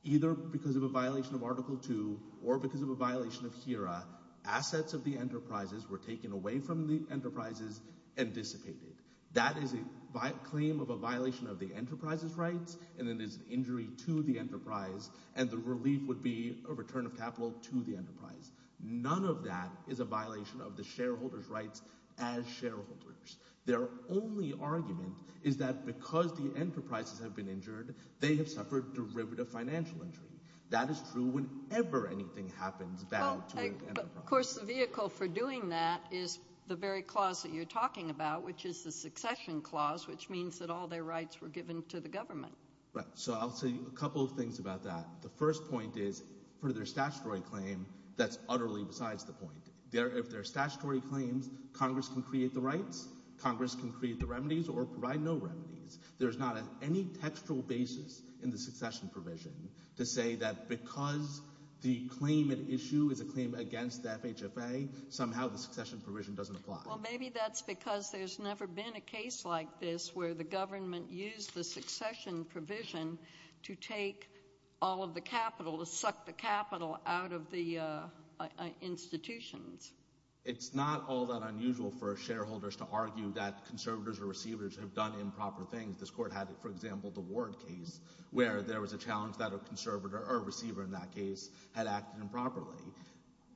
either because of a violation of Article II or because of a violation of HERA, assets of the enterprises were taken away from the enterprises and dissipated. That is a claim of a violation of the enterprise's rights, and it is an injury to the enterprise and the relief would be a return of capital to the enterprise. None of that is a violation of the shareholders' rights as shareholders. Their only argument is that because the enterprises have been injured, they have suffered derivative financial injury. That is true whenever anything happens bad to an enterprise. Of course, the vehicle for doing that is the very clause that you're talking about, which is the succession clause, which means that all their rights were given to the government. Right. So I'll say a couple of things about that. The first point is, for their statutory claim, that's utterly besides the point. If they're statutory claims, Congress can create the rights, Congress can create the remedies or provide no remedies. There's not any textual basis in the succession provision to say that because the claim at issue is a claim against the FHFA, somehow the succession provision doesn't apply. Well, maybe that's because there's never been a case like this where the government used the succession provision to take all of the capital, to suck the capital out of the institutions. It's not all that unusual for shareholders to argue that conservators or receivers have done improper things. This court had, for example, the Ward case, where there was a challenge that a conservator or a receiver in that case had acted improperly.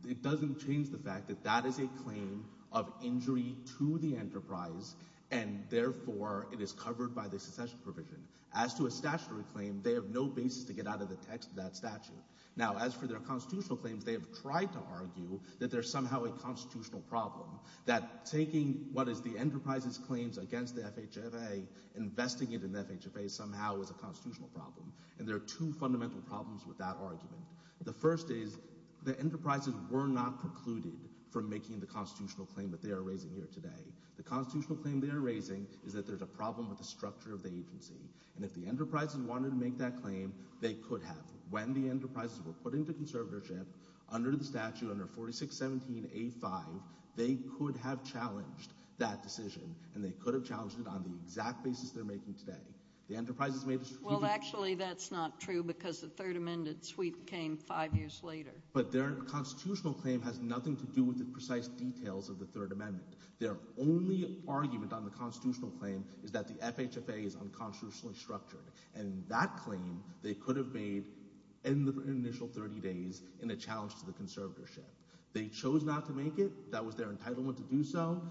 It doesn't change the fact that that is a claim of injury to the enterprise, and therefore it is covered by the succession provision. As to a statutory claim, they have no basis to get out of the text of that statute. Now, as for their constitutional claims, they have tried to argue that there's somehow a constitutional problem, that taking what is the enterprise's claims against the FHFA, investing it in the FHFA somehow is a constitutional problem. And there are two fundamental problems with that argument. The first is, the enterprises were not precluded from making the constitutional claim that they are raising here today. The constitutional claim they are raising is that there's a problem with the structure of the agency. And if the enterprises wanted to make that claim, they could have. When the enterprises were put into conservatorship, under the statute, under 4617A5, they could have challenged that decision, and they could have challenged it on the exact basis they're making today. The enterprises made the— Well, actually, that's not true, because the Third Amendment sweep came five years later. But their constitutional claim has nothing to do with the precise details of the Third Amendment. Their only argument on the constitutional claim is that the FHFA is unconstitutionally structured. And that claim, they could have made in the initial 30 days in a challenge to the conservatorship. They chose not to make it. That was their entitlement to do so.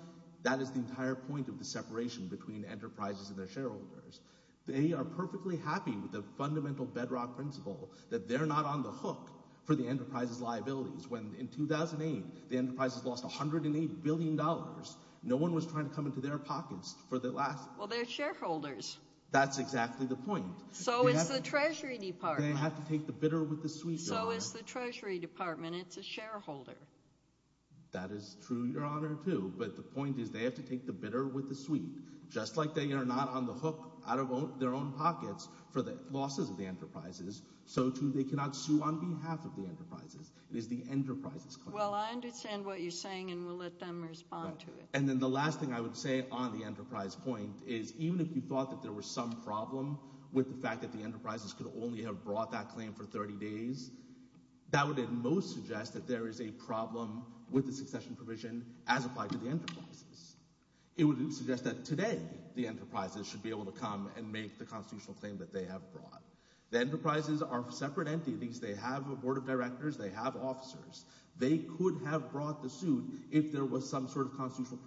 That is the entire point of the separation between enterprises and their shareholders. They are perfectly happy with the fundamental bedrock principle that they're not on the hook for the enterprise's liabilities. When in 2008, the enterprises lost $108 billion, no one was trying to come into their pockets for the last— Well, they're shareholders. That's exactly the point. So is the Treasury Department. They have to take the bitter with the sweet, Your Honor. So is the Treasury Department. It's a shareholder. That is true, Your Honor, too. But the point is they have to take the bitter with the sweet, just like they are not on the hook out of their own pockets for the losses of the enterprises, so too they cannot sue on behalf of the enterprises. It is the enterprise's claim. Well, I understand what you're saying, and we'll let them respond to it. And then the last thing I would say on the enterprise point is even if you thought that there was some problem with the fact that the enterprises could only have brought that claim for 30 days, that would at most suggest that there is a problem with the succession provision as applied to the enterprises. It would suggest that today the enterprises should be able to come and make the constitutional claim that they have brought. The enterprises are separate entities. They have a board of directors. They have officers. They could have brought the suit if there was some sort of constitutional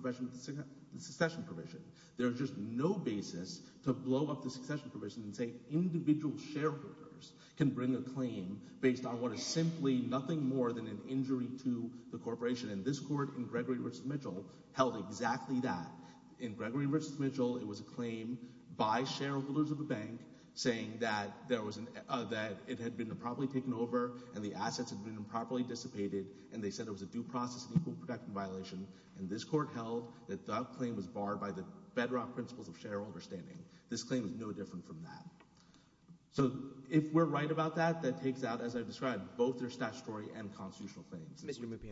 succession provision. There is just no basis to blow up the succession provision and say individual shareholders can bring a claim based on what is simply nothing more than an injury to the corporation. And this Court in Gregory v. Mitchell held exactly that. In Gregory v. Mitchell, it was a claim by shareholders of a bank saying that it had been improperly taken over and the assets had been improperly dissipated, and they said it was a due process and equal protection violation. And this Court held that that claim was barred by the bedrock principles of shareholder standing. This claim is no different from that. So if we're right about that, that takes out, as I've described, both their statutory and constitutional claims.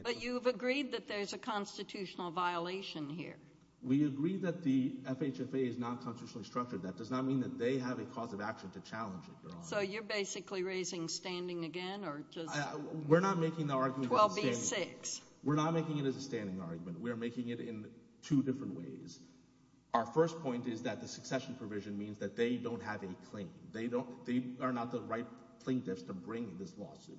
But you've agreed that there's a constitutional violation here. We agree that the FHFA is not constitutionally structured. You're basically raising standing again? We're not making the argument as a standing argument. We're making it in two different ways. Our first point is that the succession provision means that they don't have a claim. They are not the right plaintiffs to bring this lawsuit.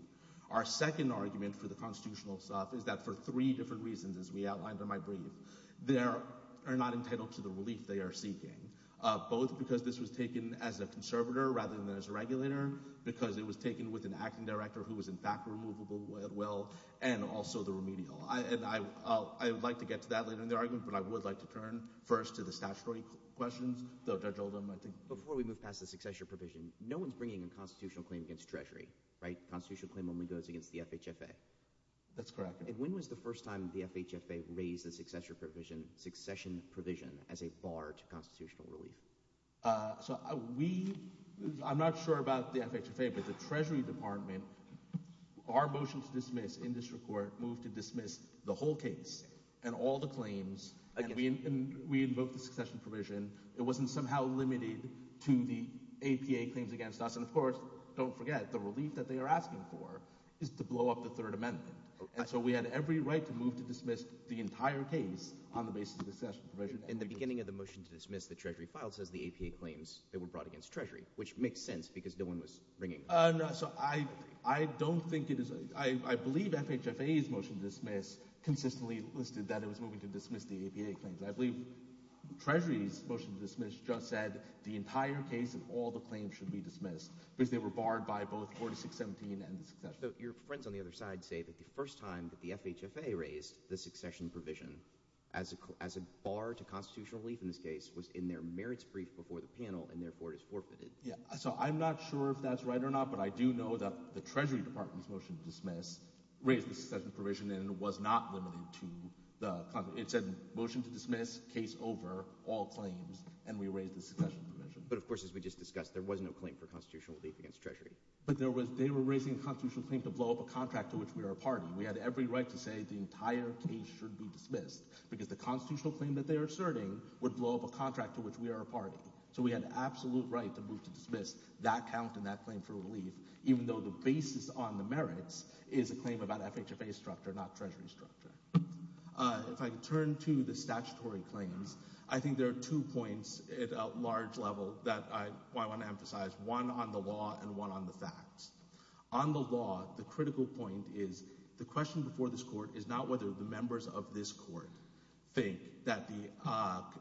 Our second argument for the constitutional stuff is that for three different reasons, as we outlined in my brief, they are not entitled to the relief they are seeking, both because this was taken as a conservator rather than as a regulator, because it was taken with an acting director who was in fact removable as well, and also the remedial. And I would like to get to that later in the argument, but I would like to turn first to the statutory questions, though Judge Oldham might think— Before we move past the succession provision, no one's bringing a constitutional claim against Treasury, right? The constitutional claim only goes against the FHFA. That's correct. And when was the first time the FHFA raised the succession provision as a bar to constitutional relief? So we—I'm not sure about the FHFA, but the Treasury Department, our motion to dismiss in this report moved to dismiss the whole case and all the claims, and we invoked the succession provision. It wasn't somehow limited to the APA claims against us. And of course, don't forget, the relief that they are asking for is to blow up the Third Amendment. And so we had every right to move to dismiss the entire case on the basis of the succession provision. In the beginning of the motion to dismiss, the Treasury file says the APA claims that were brought against Treasury, which makes sense because no one was bringing— No, so I don't think it is—I believe FHFA's motion to dismiss consistently listed that it was moving to dismiss the APA claims. I believe Treasury's motion to dismiss just said the entire case and all the claims should be dismissed because they were barred by both 4617 and the succession provision. So your friends on the other side say that the first time that the FHFA raised the succession provision as a bar to constitutional relief in this case was in their merits brief before the panel, and therefore it is forfeited. Yeah. So I'm not sure if that's right or not, but I do know that the Treasury Department's motion to dismiss raised the succession provision and it was not limited to the—it said motion to dismiss, case over, all claims, and we raised the succession provision. But of course, as we just discussed, there was no claim for constitutional relief against Treasury. But they were raising a constitutional claim to blow up a contract to which we are a party. We had every right to say the entire case should be dismissed because the constitutional claim that they are asserting would blow up a contract to which we are a party. So we had absolute right to move to dismiss that count and that claim for relief, even though the basis on the merits is a claim about FHFA structure, not Treasury structure. If I could turn to the statutory claims, I think there are two points at a large level that I want to emphasize, one on the law and one on the facts. On the law, the critical point is the question before this Court is not whether the members of this Court think that the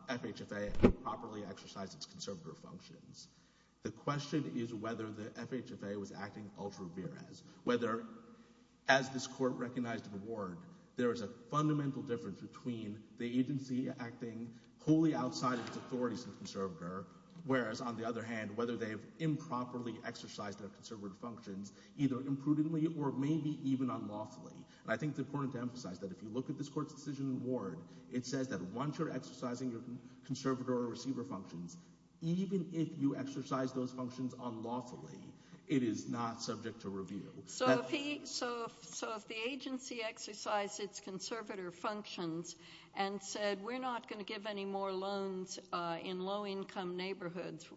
FHFA improperly exercised its conservator functions. The question is whether the FHFA was acting ultra vires, whether, as this Court recognized in the ward, there is a fundamental difference between the agency acting wholly outside of its authorities as a conservator, whereas, on the other hand, whether they have improperly exercised their conservator functions, either imprudently or maybe even unlawfully. I think it's important to emphasize that if you look at this Court's decision in the ward, it says that once you're exercising your conservator or receiver functions, even if you exercise those functions unlawfully, it is not subject to review. So if the agency exercised its conservator functions and said we're not going to give any more loans in low-income neighborhoods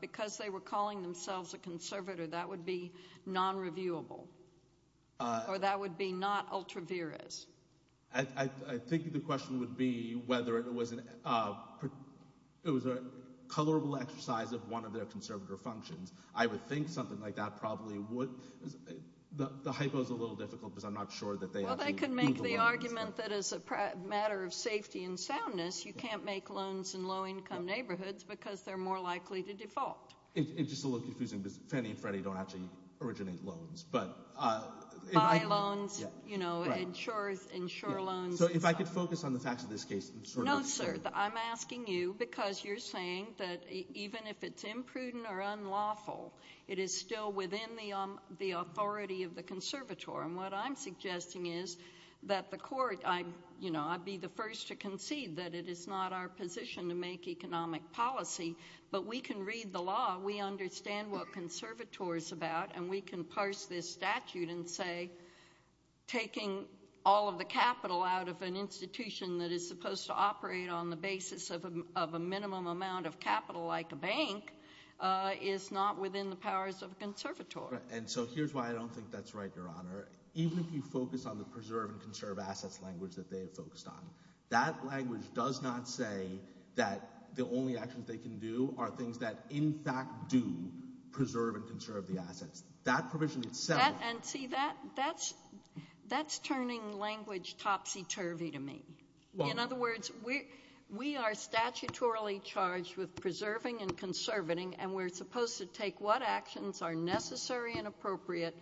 because they were calling themselves a conservator, that would be non-reviewable, or that would be not ultra vires. I think the question would be whether it was a colorable exercise of one of their conservator functions. I would think something like that probably would. The hypo is a little difficult because I'm not sure that they actually— Well, they could make the argument that as a matter of safety and soundness, you can't make loans in low-income neighborhoods because they're more likely to default. It's just a little confusing because Fannie and Freddie don't actually originate loans. Buy loans, you know, insure loans. So if I could focus on the facts of this case— No, sir. I'm asking you because you're saying that even if it's imprudent or unlawful, it is still within the authority of the conservator. And what I'm suggesting is that the Court—I'd be the first to concede that it is not our We understand what conservator is about, and we can parse this statute and say taking all of the capital out of an institution that is supposed to operate on the basis of a minimum amount of capital like a bank is not within the powers of a conservator. And so here's why I don't think that's right, Your Honor. Even if you focus on the preserve and conserve assets language that they have focused on, that language does not say that the only actions they can do are things that in fact do preserve and conserve the assets. That provision itself— And see, that's turning language topsy-turvy to me. In other words, we are statutorily charged with preserving and conserving, and we're supposed to take what actions are necessary and appropriate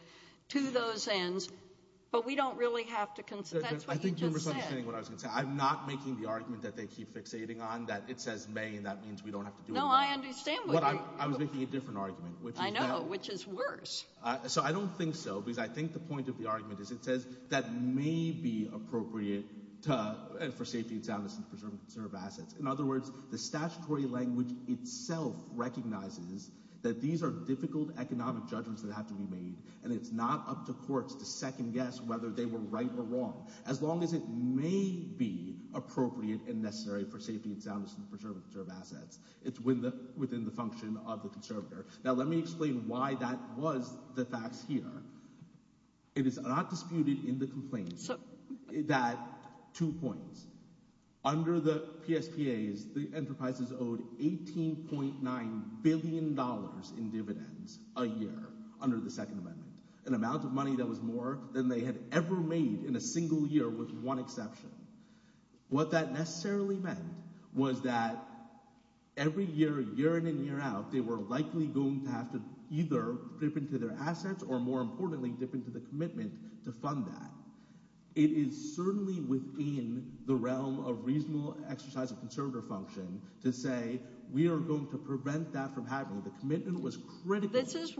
to those ends, but we don't really have to— I think you're misunderstanding what I was going to say. I'm not making the argument that they keep fixating on that it says may, and that means we don't have to do it. No, I understand what you're— I was making a different argument, which is that— I know, which is worse. So I don't think so, because I think the point of the argument is it says that may be appropriate for safety and soundness in the preserve and conserve assets. In other words, the statutory language itself recognizes that these are difficult economic judgments that have to be made, and it's not up to courts to second guess whether they were right or wrong. As long as it may be appropriate and necessary for safety and soundness in the preserve and conserve assets, it's within the function of the conservator. Now, let me explain why that was the facts here. It is not disputed in the complaint that— two points. Under the PSPAs, the enterprises owed $18.9 billion in dividends a year under the Second Amendment, an amount of money that was more than they had ever made in a single year with one exception. What that necessarily meant was that every year, year in and year out, they were likely going to have to either dip into their assets or, more importantly, dip into the commitment to fund that. It is certainly within the realm of reasonable exercise of conservator function to say, we are going to prevent that from happening. The commitment was critical. This is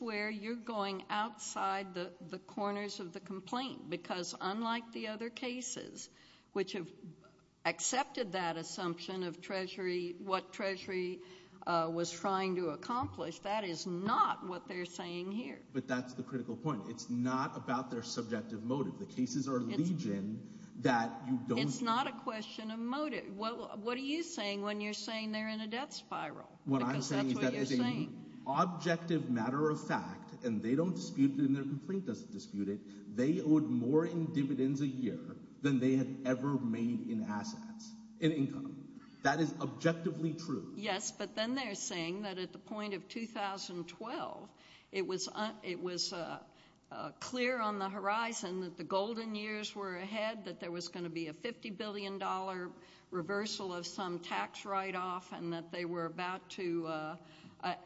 where you're going outside the corners of the complaint, because unlike the other cases, which have accepted that assumption of what Treasury was trying to accomplish, that is not what they're saying here. But that's the critical point. It's not about their subjective motive. The cases are legion that you don't— It's not a question of motive. What are you saying when you're saying they're in a death spiral? What I'm saying is that as an objective matter of fact, and they don't dispute it and their complaint doesn't dispute it, they owed more in dividends a year than they had ever made in assets, in income. That is objectively true. Yes, but then they're saying that at the point of 2012, it was clear on the horizon that the golden years were ahead, that there was going to be a $50 billion reversal of some tax write-off, and that they were about to—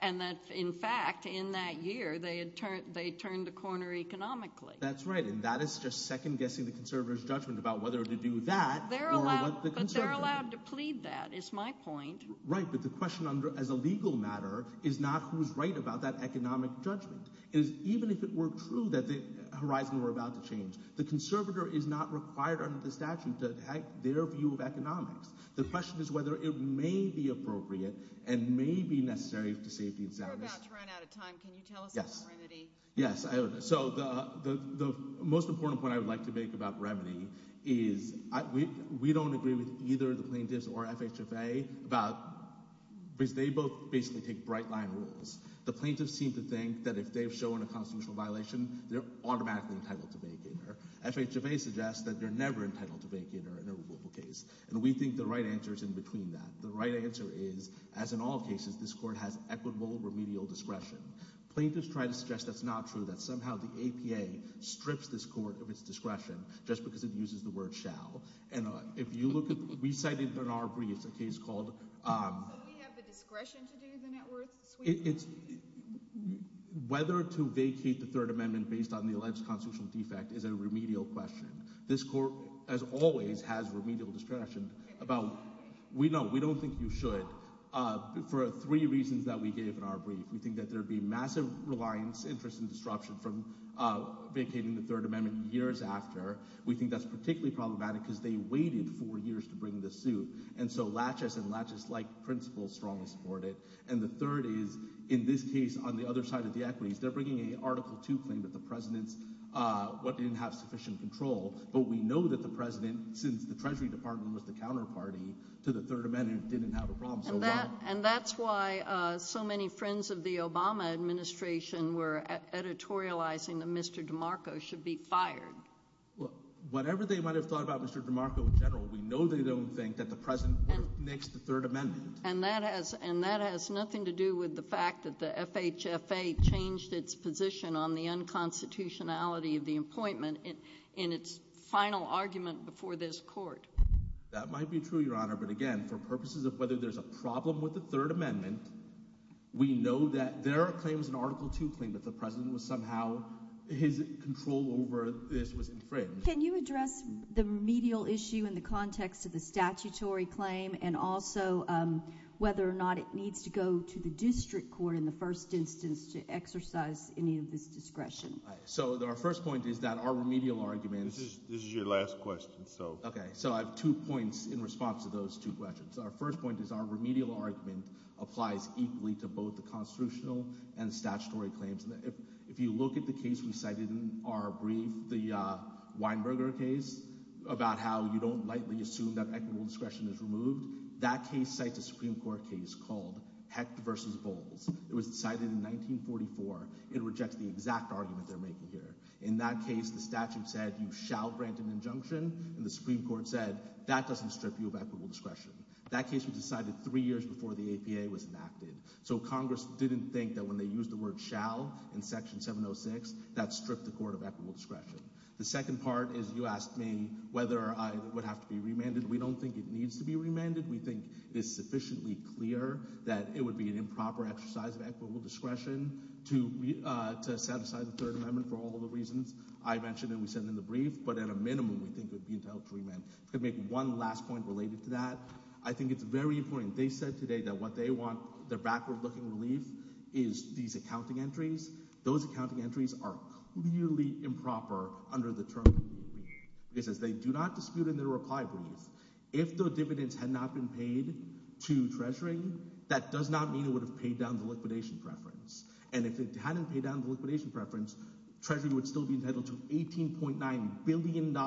and that, in fact, in that year, they had turned the corner economically. That's right. And that is just second-guessing the Conservatives' judgment about whether to do that or what the Conservatives— But they're allowed to plead that, is my point. Right, but the question as a legal matter is not who's right about that economic judgment. It is even if it were true that the horizon were about to change. The Conservator is not required under the statute to have their view of economics. The question is whether it may be appropriate and may be necessary to safety and soundness. We're about to run out of time. Can you tell us about Remedy? Yes, so the most important point I would like to make about Remedy is we don't agree with either the plaintiffs or FHFA about— because they both basically take bright-line rules. The plaintiffs seem to think that if they've shown a constitutional violation, they're automatically entitled to vacate. FHFA suggests that they're never entitled to vacate in a removal case, and we think the right answer is in between that. The right answer is, as in all cases, this court has equitable remedial discretion. Plaintiffs try to suggest that's not true, that somehow the APA strips this court of its discretion just because it uses the word shall. And if you look at—we cited in our briefs a case called— So we have the discretion to do the net worth sweep? It's—whether to vacate the Third Amendment based on the alleged constitutional defect is a remedial question. This court, as always, has remedial discretion about— we know, we don't think you should. For three reasons that we gave in our brief, we think that there'd be massive reliance, interest, and disruption from vacating the Third Amendment years after. We think that's particularly problematic because they waited four years to bring the suit, and so latches and latches like principles strongly support it. And the third is, in this case, on the other side of the equities, they're bringing an Article 2 claim that the president's— But we know that the president, since the Treasury Department was the counterparty to the Third Amendment, didn't have a problem. And that's why so many friends of the Obama administration were editorializing that Mr. DeMarco should be fired. Whatever they might have thought about Mr. DeMarco in general, we know they don't think that the president would have nixed the Third Amendment. And that has nothing to do with the fact that the FHFA changed its position on the unconstitutionality of the appointment in its final argument before this court. That might be true, Your Honor. But again, for purposes of whether there's a problem with the Third Amendment, we know that there are claims in Article 2 claim that the president was somehow— his control over this was infringed. Can you address the remedial issue in the context of the statutory claim and also whether or not it needs to go to the district court in the first instance to exercise any of this discretion? So our first point is that our remedial argument— This is your last question, so— Okay. So I have two points in response to those two questions. Our first point is our remedial argument applies equally to both the constitutional and statutory claims. And if you look at the case we cited in our brief, the Weinberger case about how you don't lightly assume that equitable discretion is removed, that case cites a Supreme Court case called Hecht v. Bowles. It was decided in 1944. It rejects the exact argument they're making here. In that case, the statute said you shall grant an injunction, and the Supreme Court said, that doesn't strip you of equitable discretion. That case was decided three years before the APA was enacted. So Congress didn't think that when they used the word shall in Section 706, that stripped the court of equitable discretion. The second part is you asked me whether I would have to be remanded. We don't think it needs to be remanded. We think it is sufficiently clear that it would be an improper exercise of equitable discretion to set aside the Third Amendment for all of the reasons I mentioned that we said in the brief. But at a minimum, we think it would be entitled to remand. I can make one last point related to that. I think it's very important. They said today that what they want, their backward-looking relief, is these accounting entries. Those accounting entries are clearly improper under the term. It says they do not dispute in their reply brief. If the dividends had not been paid to treasuring, that does not mean it would have paid down the liquidation preference. If it hadn't paid down the liquidation preference, treasury would still be entitled to $18.9 billion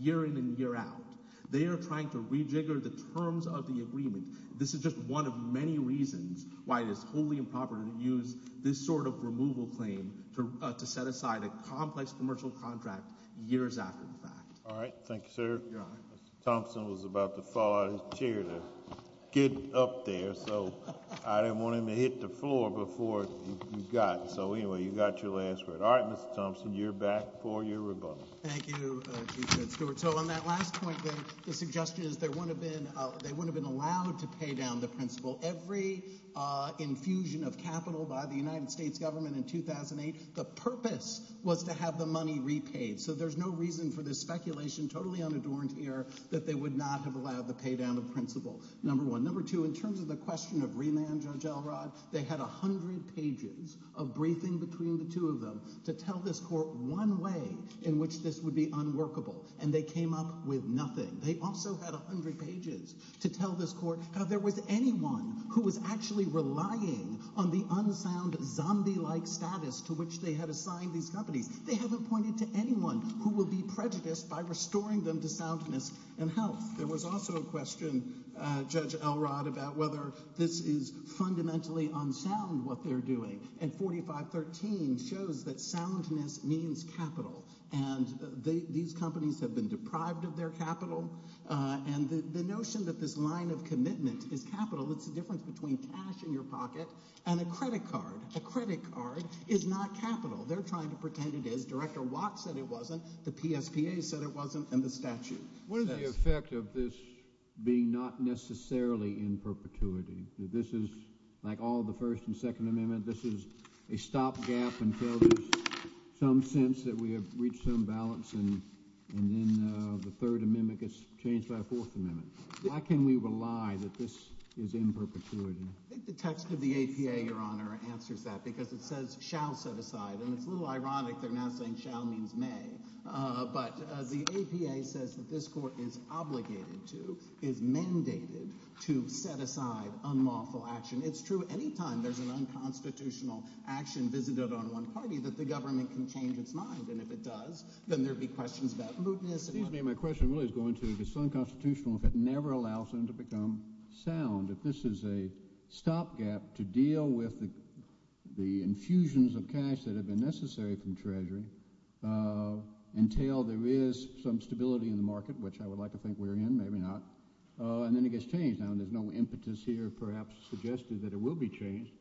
year in and year out. They are trying to rejigger the terms of the agreement. This is just one of many reasons why it is wholly improper to use this sort of removal claim to set aside a complex commercial contract years after the fact. All right. Thank you, sir. You're welcome. Mr. Thompson was about to fall out of his chair to get up there, so I didn't want him to hit the floor before you got. So anyway, you got your last word. All right, Mr. Thompson, you're back for your rebuttal. Thank you, Chief Judge Stewart. So on that last point, the suggestion is they wouldn't have been allowed to pay down the principal. Every infusion of capital by the United States government in 2008, the purpose was to have the money repaid. So there's no reason for this speculation, totally unadorned here, that they would not have allowed the pay down of principal, number one. Number two, in terms of the question of remand, Judge Elrod, they had a hundred pages of briefing between the two of them to tell this court one way in which this would be unworkable, and they came up with nothing. They also had a hundred pages to tell this court how there was anyone who was actually relying on the unsound zombie-like status to which they had assigned these companies. They haven't pointed to anyone who will be prejudiced by restoring them to soundness and health. There was also a question, Judge Elrod, about whether this is fundamentally unsound, what they're doing. And 4513 shows that soundness means capital. And these companies have been deprived of their capital. And the notion that this line of commitment is capital, it's the difference between cash in your pocket and a credit card. A credit card is not capital. They're trying to pretend it is. Director Watt said it wasn't, the PSPA said it wasn't, and the statute. What is the effect of this being not necessarily in perpetuity? This is, like all the First and Second Amendment, this is a stopgap until there's some sense that we have reached some balance, and then the Third Amendment gets changed by the Fourth Amendment. Why can we rely that this is in perpetuity? I think the text of the APA, Your Honor, answers that, because it says, shall set aside. And it's a little ironic they're now saying shall means may. But the APA says that this court is obligated to, is mandated to set aside unlawful action. It's true any time there's an unconstitutional action visited on one party that the government can change its mind. And if it does, then there'd be questions about mootness. Excuse me, my question really is going to, if it's unconstitutional, if it never allows them to become sound, if this is a stopgap to deal with the infusions of cash that have been necessary from Treasury, until there is some stability in the market, which I would like to think we're in, maybe not, and then it gets changed. Now, there's no impetus here, perhaps, suggested that it will be changed,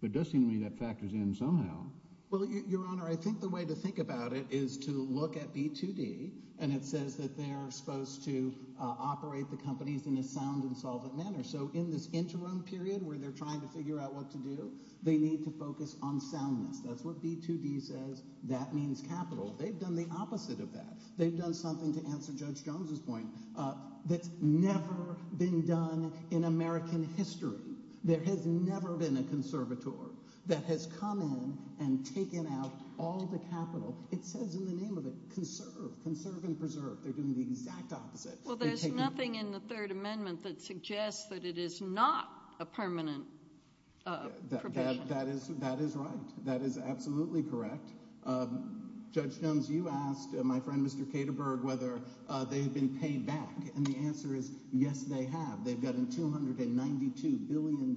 but it does seem to me that factors in somehow. Well, Your Honor, I think the way to think about it is to look at B2D, and it says that they're supposed to operate the companies in a sound and solvent manner. So in this interim period, where they're trying to figure out what to do, they need to focus on soundness. That's what B2D says. That means capital. They've done the opposite of that. They've done something, to answer Judge Jones's point, that's never been done in American history. There has never been a conservator that has come in and taken out all the capital. It says in the name of it, conserve, conserve and preserve. They're doing the exact opposite. Well, there's nothing in the Third Amendment that suggests that it is not a permanent provision. That is right. That is absolutely correct. Judge Jones, you asked my friend, Mr. Kederberg, whether they've been paid back, and the answer is, yes, they have. They've gotten $292 billion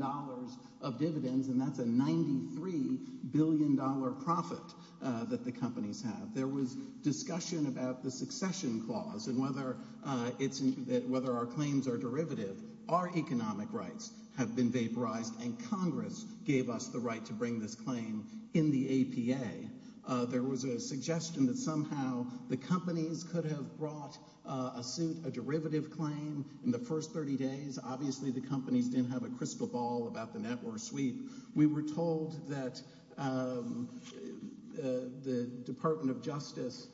of dividends, and that's a $93 billion profit that the companies have. There was discussion about the succession clause and whether our claims are derivative. Our economic rights have been vaporized, and Congress gave us the right to bring this claim in the APA. There was a suggestion that somehow the companies could have brought a suit, a derivative claim, in the first 30 days. Obviously, the companies didn't have a crystal ball about the network sweep. We were told that the Department of Justice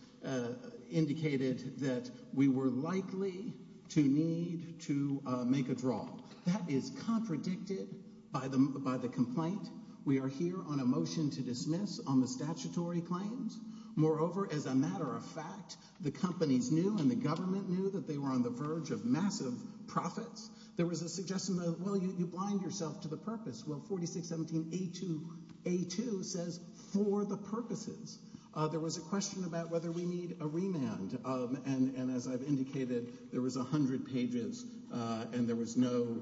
indicated that we were likely to need to make a draw. That is contradicted by the complaint. We are here on a motion to dismiss on the statutory claims. Moreover, as a matter of fact, the companies knew and the government knew that they were on the verge of massive profits. There was a suggestion that, well, you blind yourself to the purpose. Well, 4617A2 says, for the purposes. There was a question about whether we need a remand, and as I've indicated, there was 100 pages, and there was no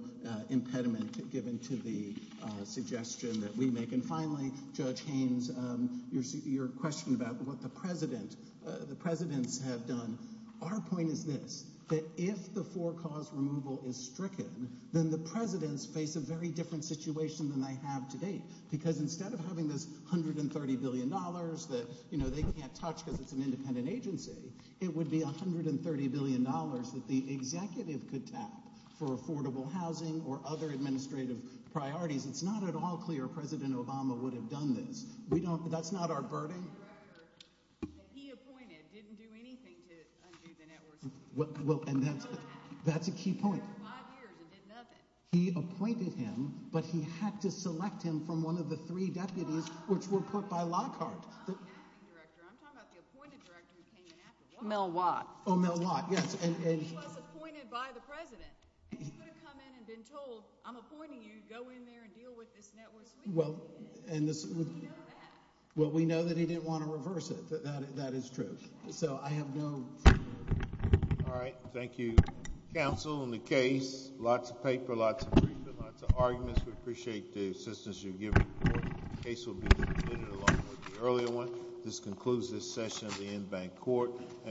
impediment given to the suggestion that we make. And finally, Judge Haynes, your question about what the presidents have done. Our point is this, that if the for-cause removal is stricken, then the presidents face a very different situation than they have to date, because instead of having this $130 billion that they can't touch because it's an independent agency, it would be $130 billion that the executive could tap for affordable housing or other administrative priorities. It's not at all clear President Obama would have done this. We don't, that's not our burden. The director that he appointed didn't do anything to undo the networks. Well, and that's a key point. For five years and did nothing. He appointed him, but he had to select him from one of the three deputies, which were put by Lockhart. I'm not the acting director. I'm talking about the appointed director who came in after Watt. Mel Watt. Oh, Mel Watt, yes. And he was appointed by the president. And he would have come in and been told, I'm appointing you, go in there and deal with this network. Well, we know that he didn't want to reverse it. That is true. So I have no... All right. Thank you, counsel and the case. Lots of paper, lots of briefings, lots of arguments. We appreciate the assistance you've given the court. The case will be submitted along with the earlier one. This concludes this session of the Inbank Court.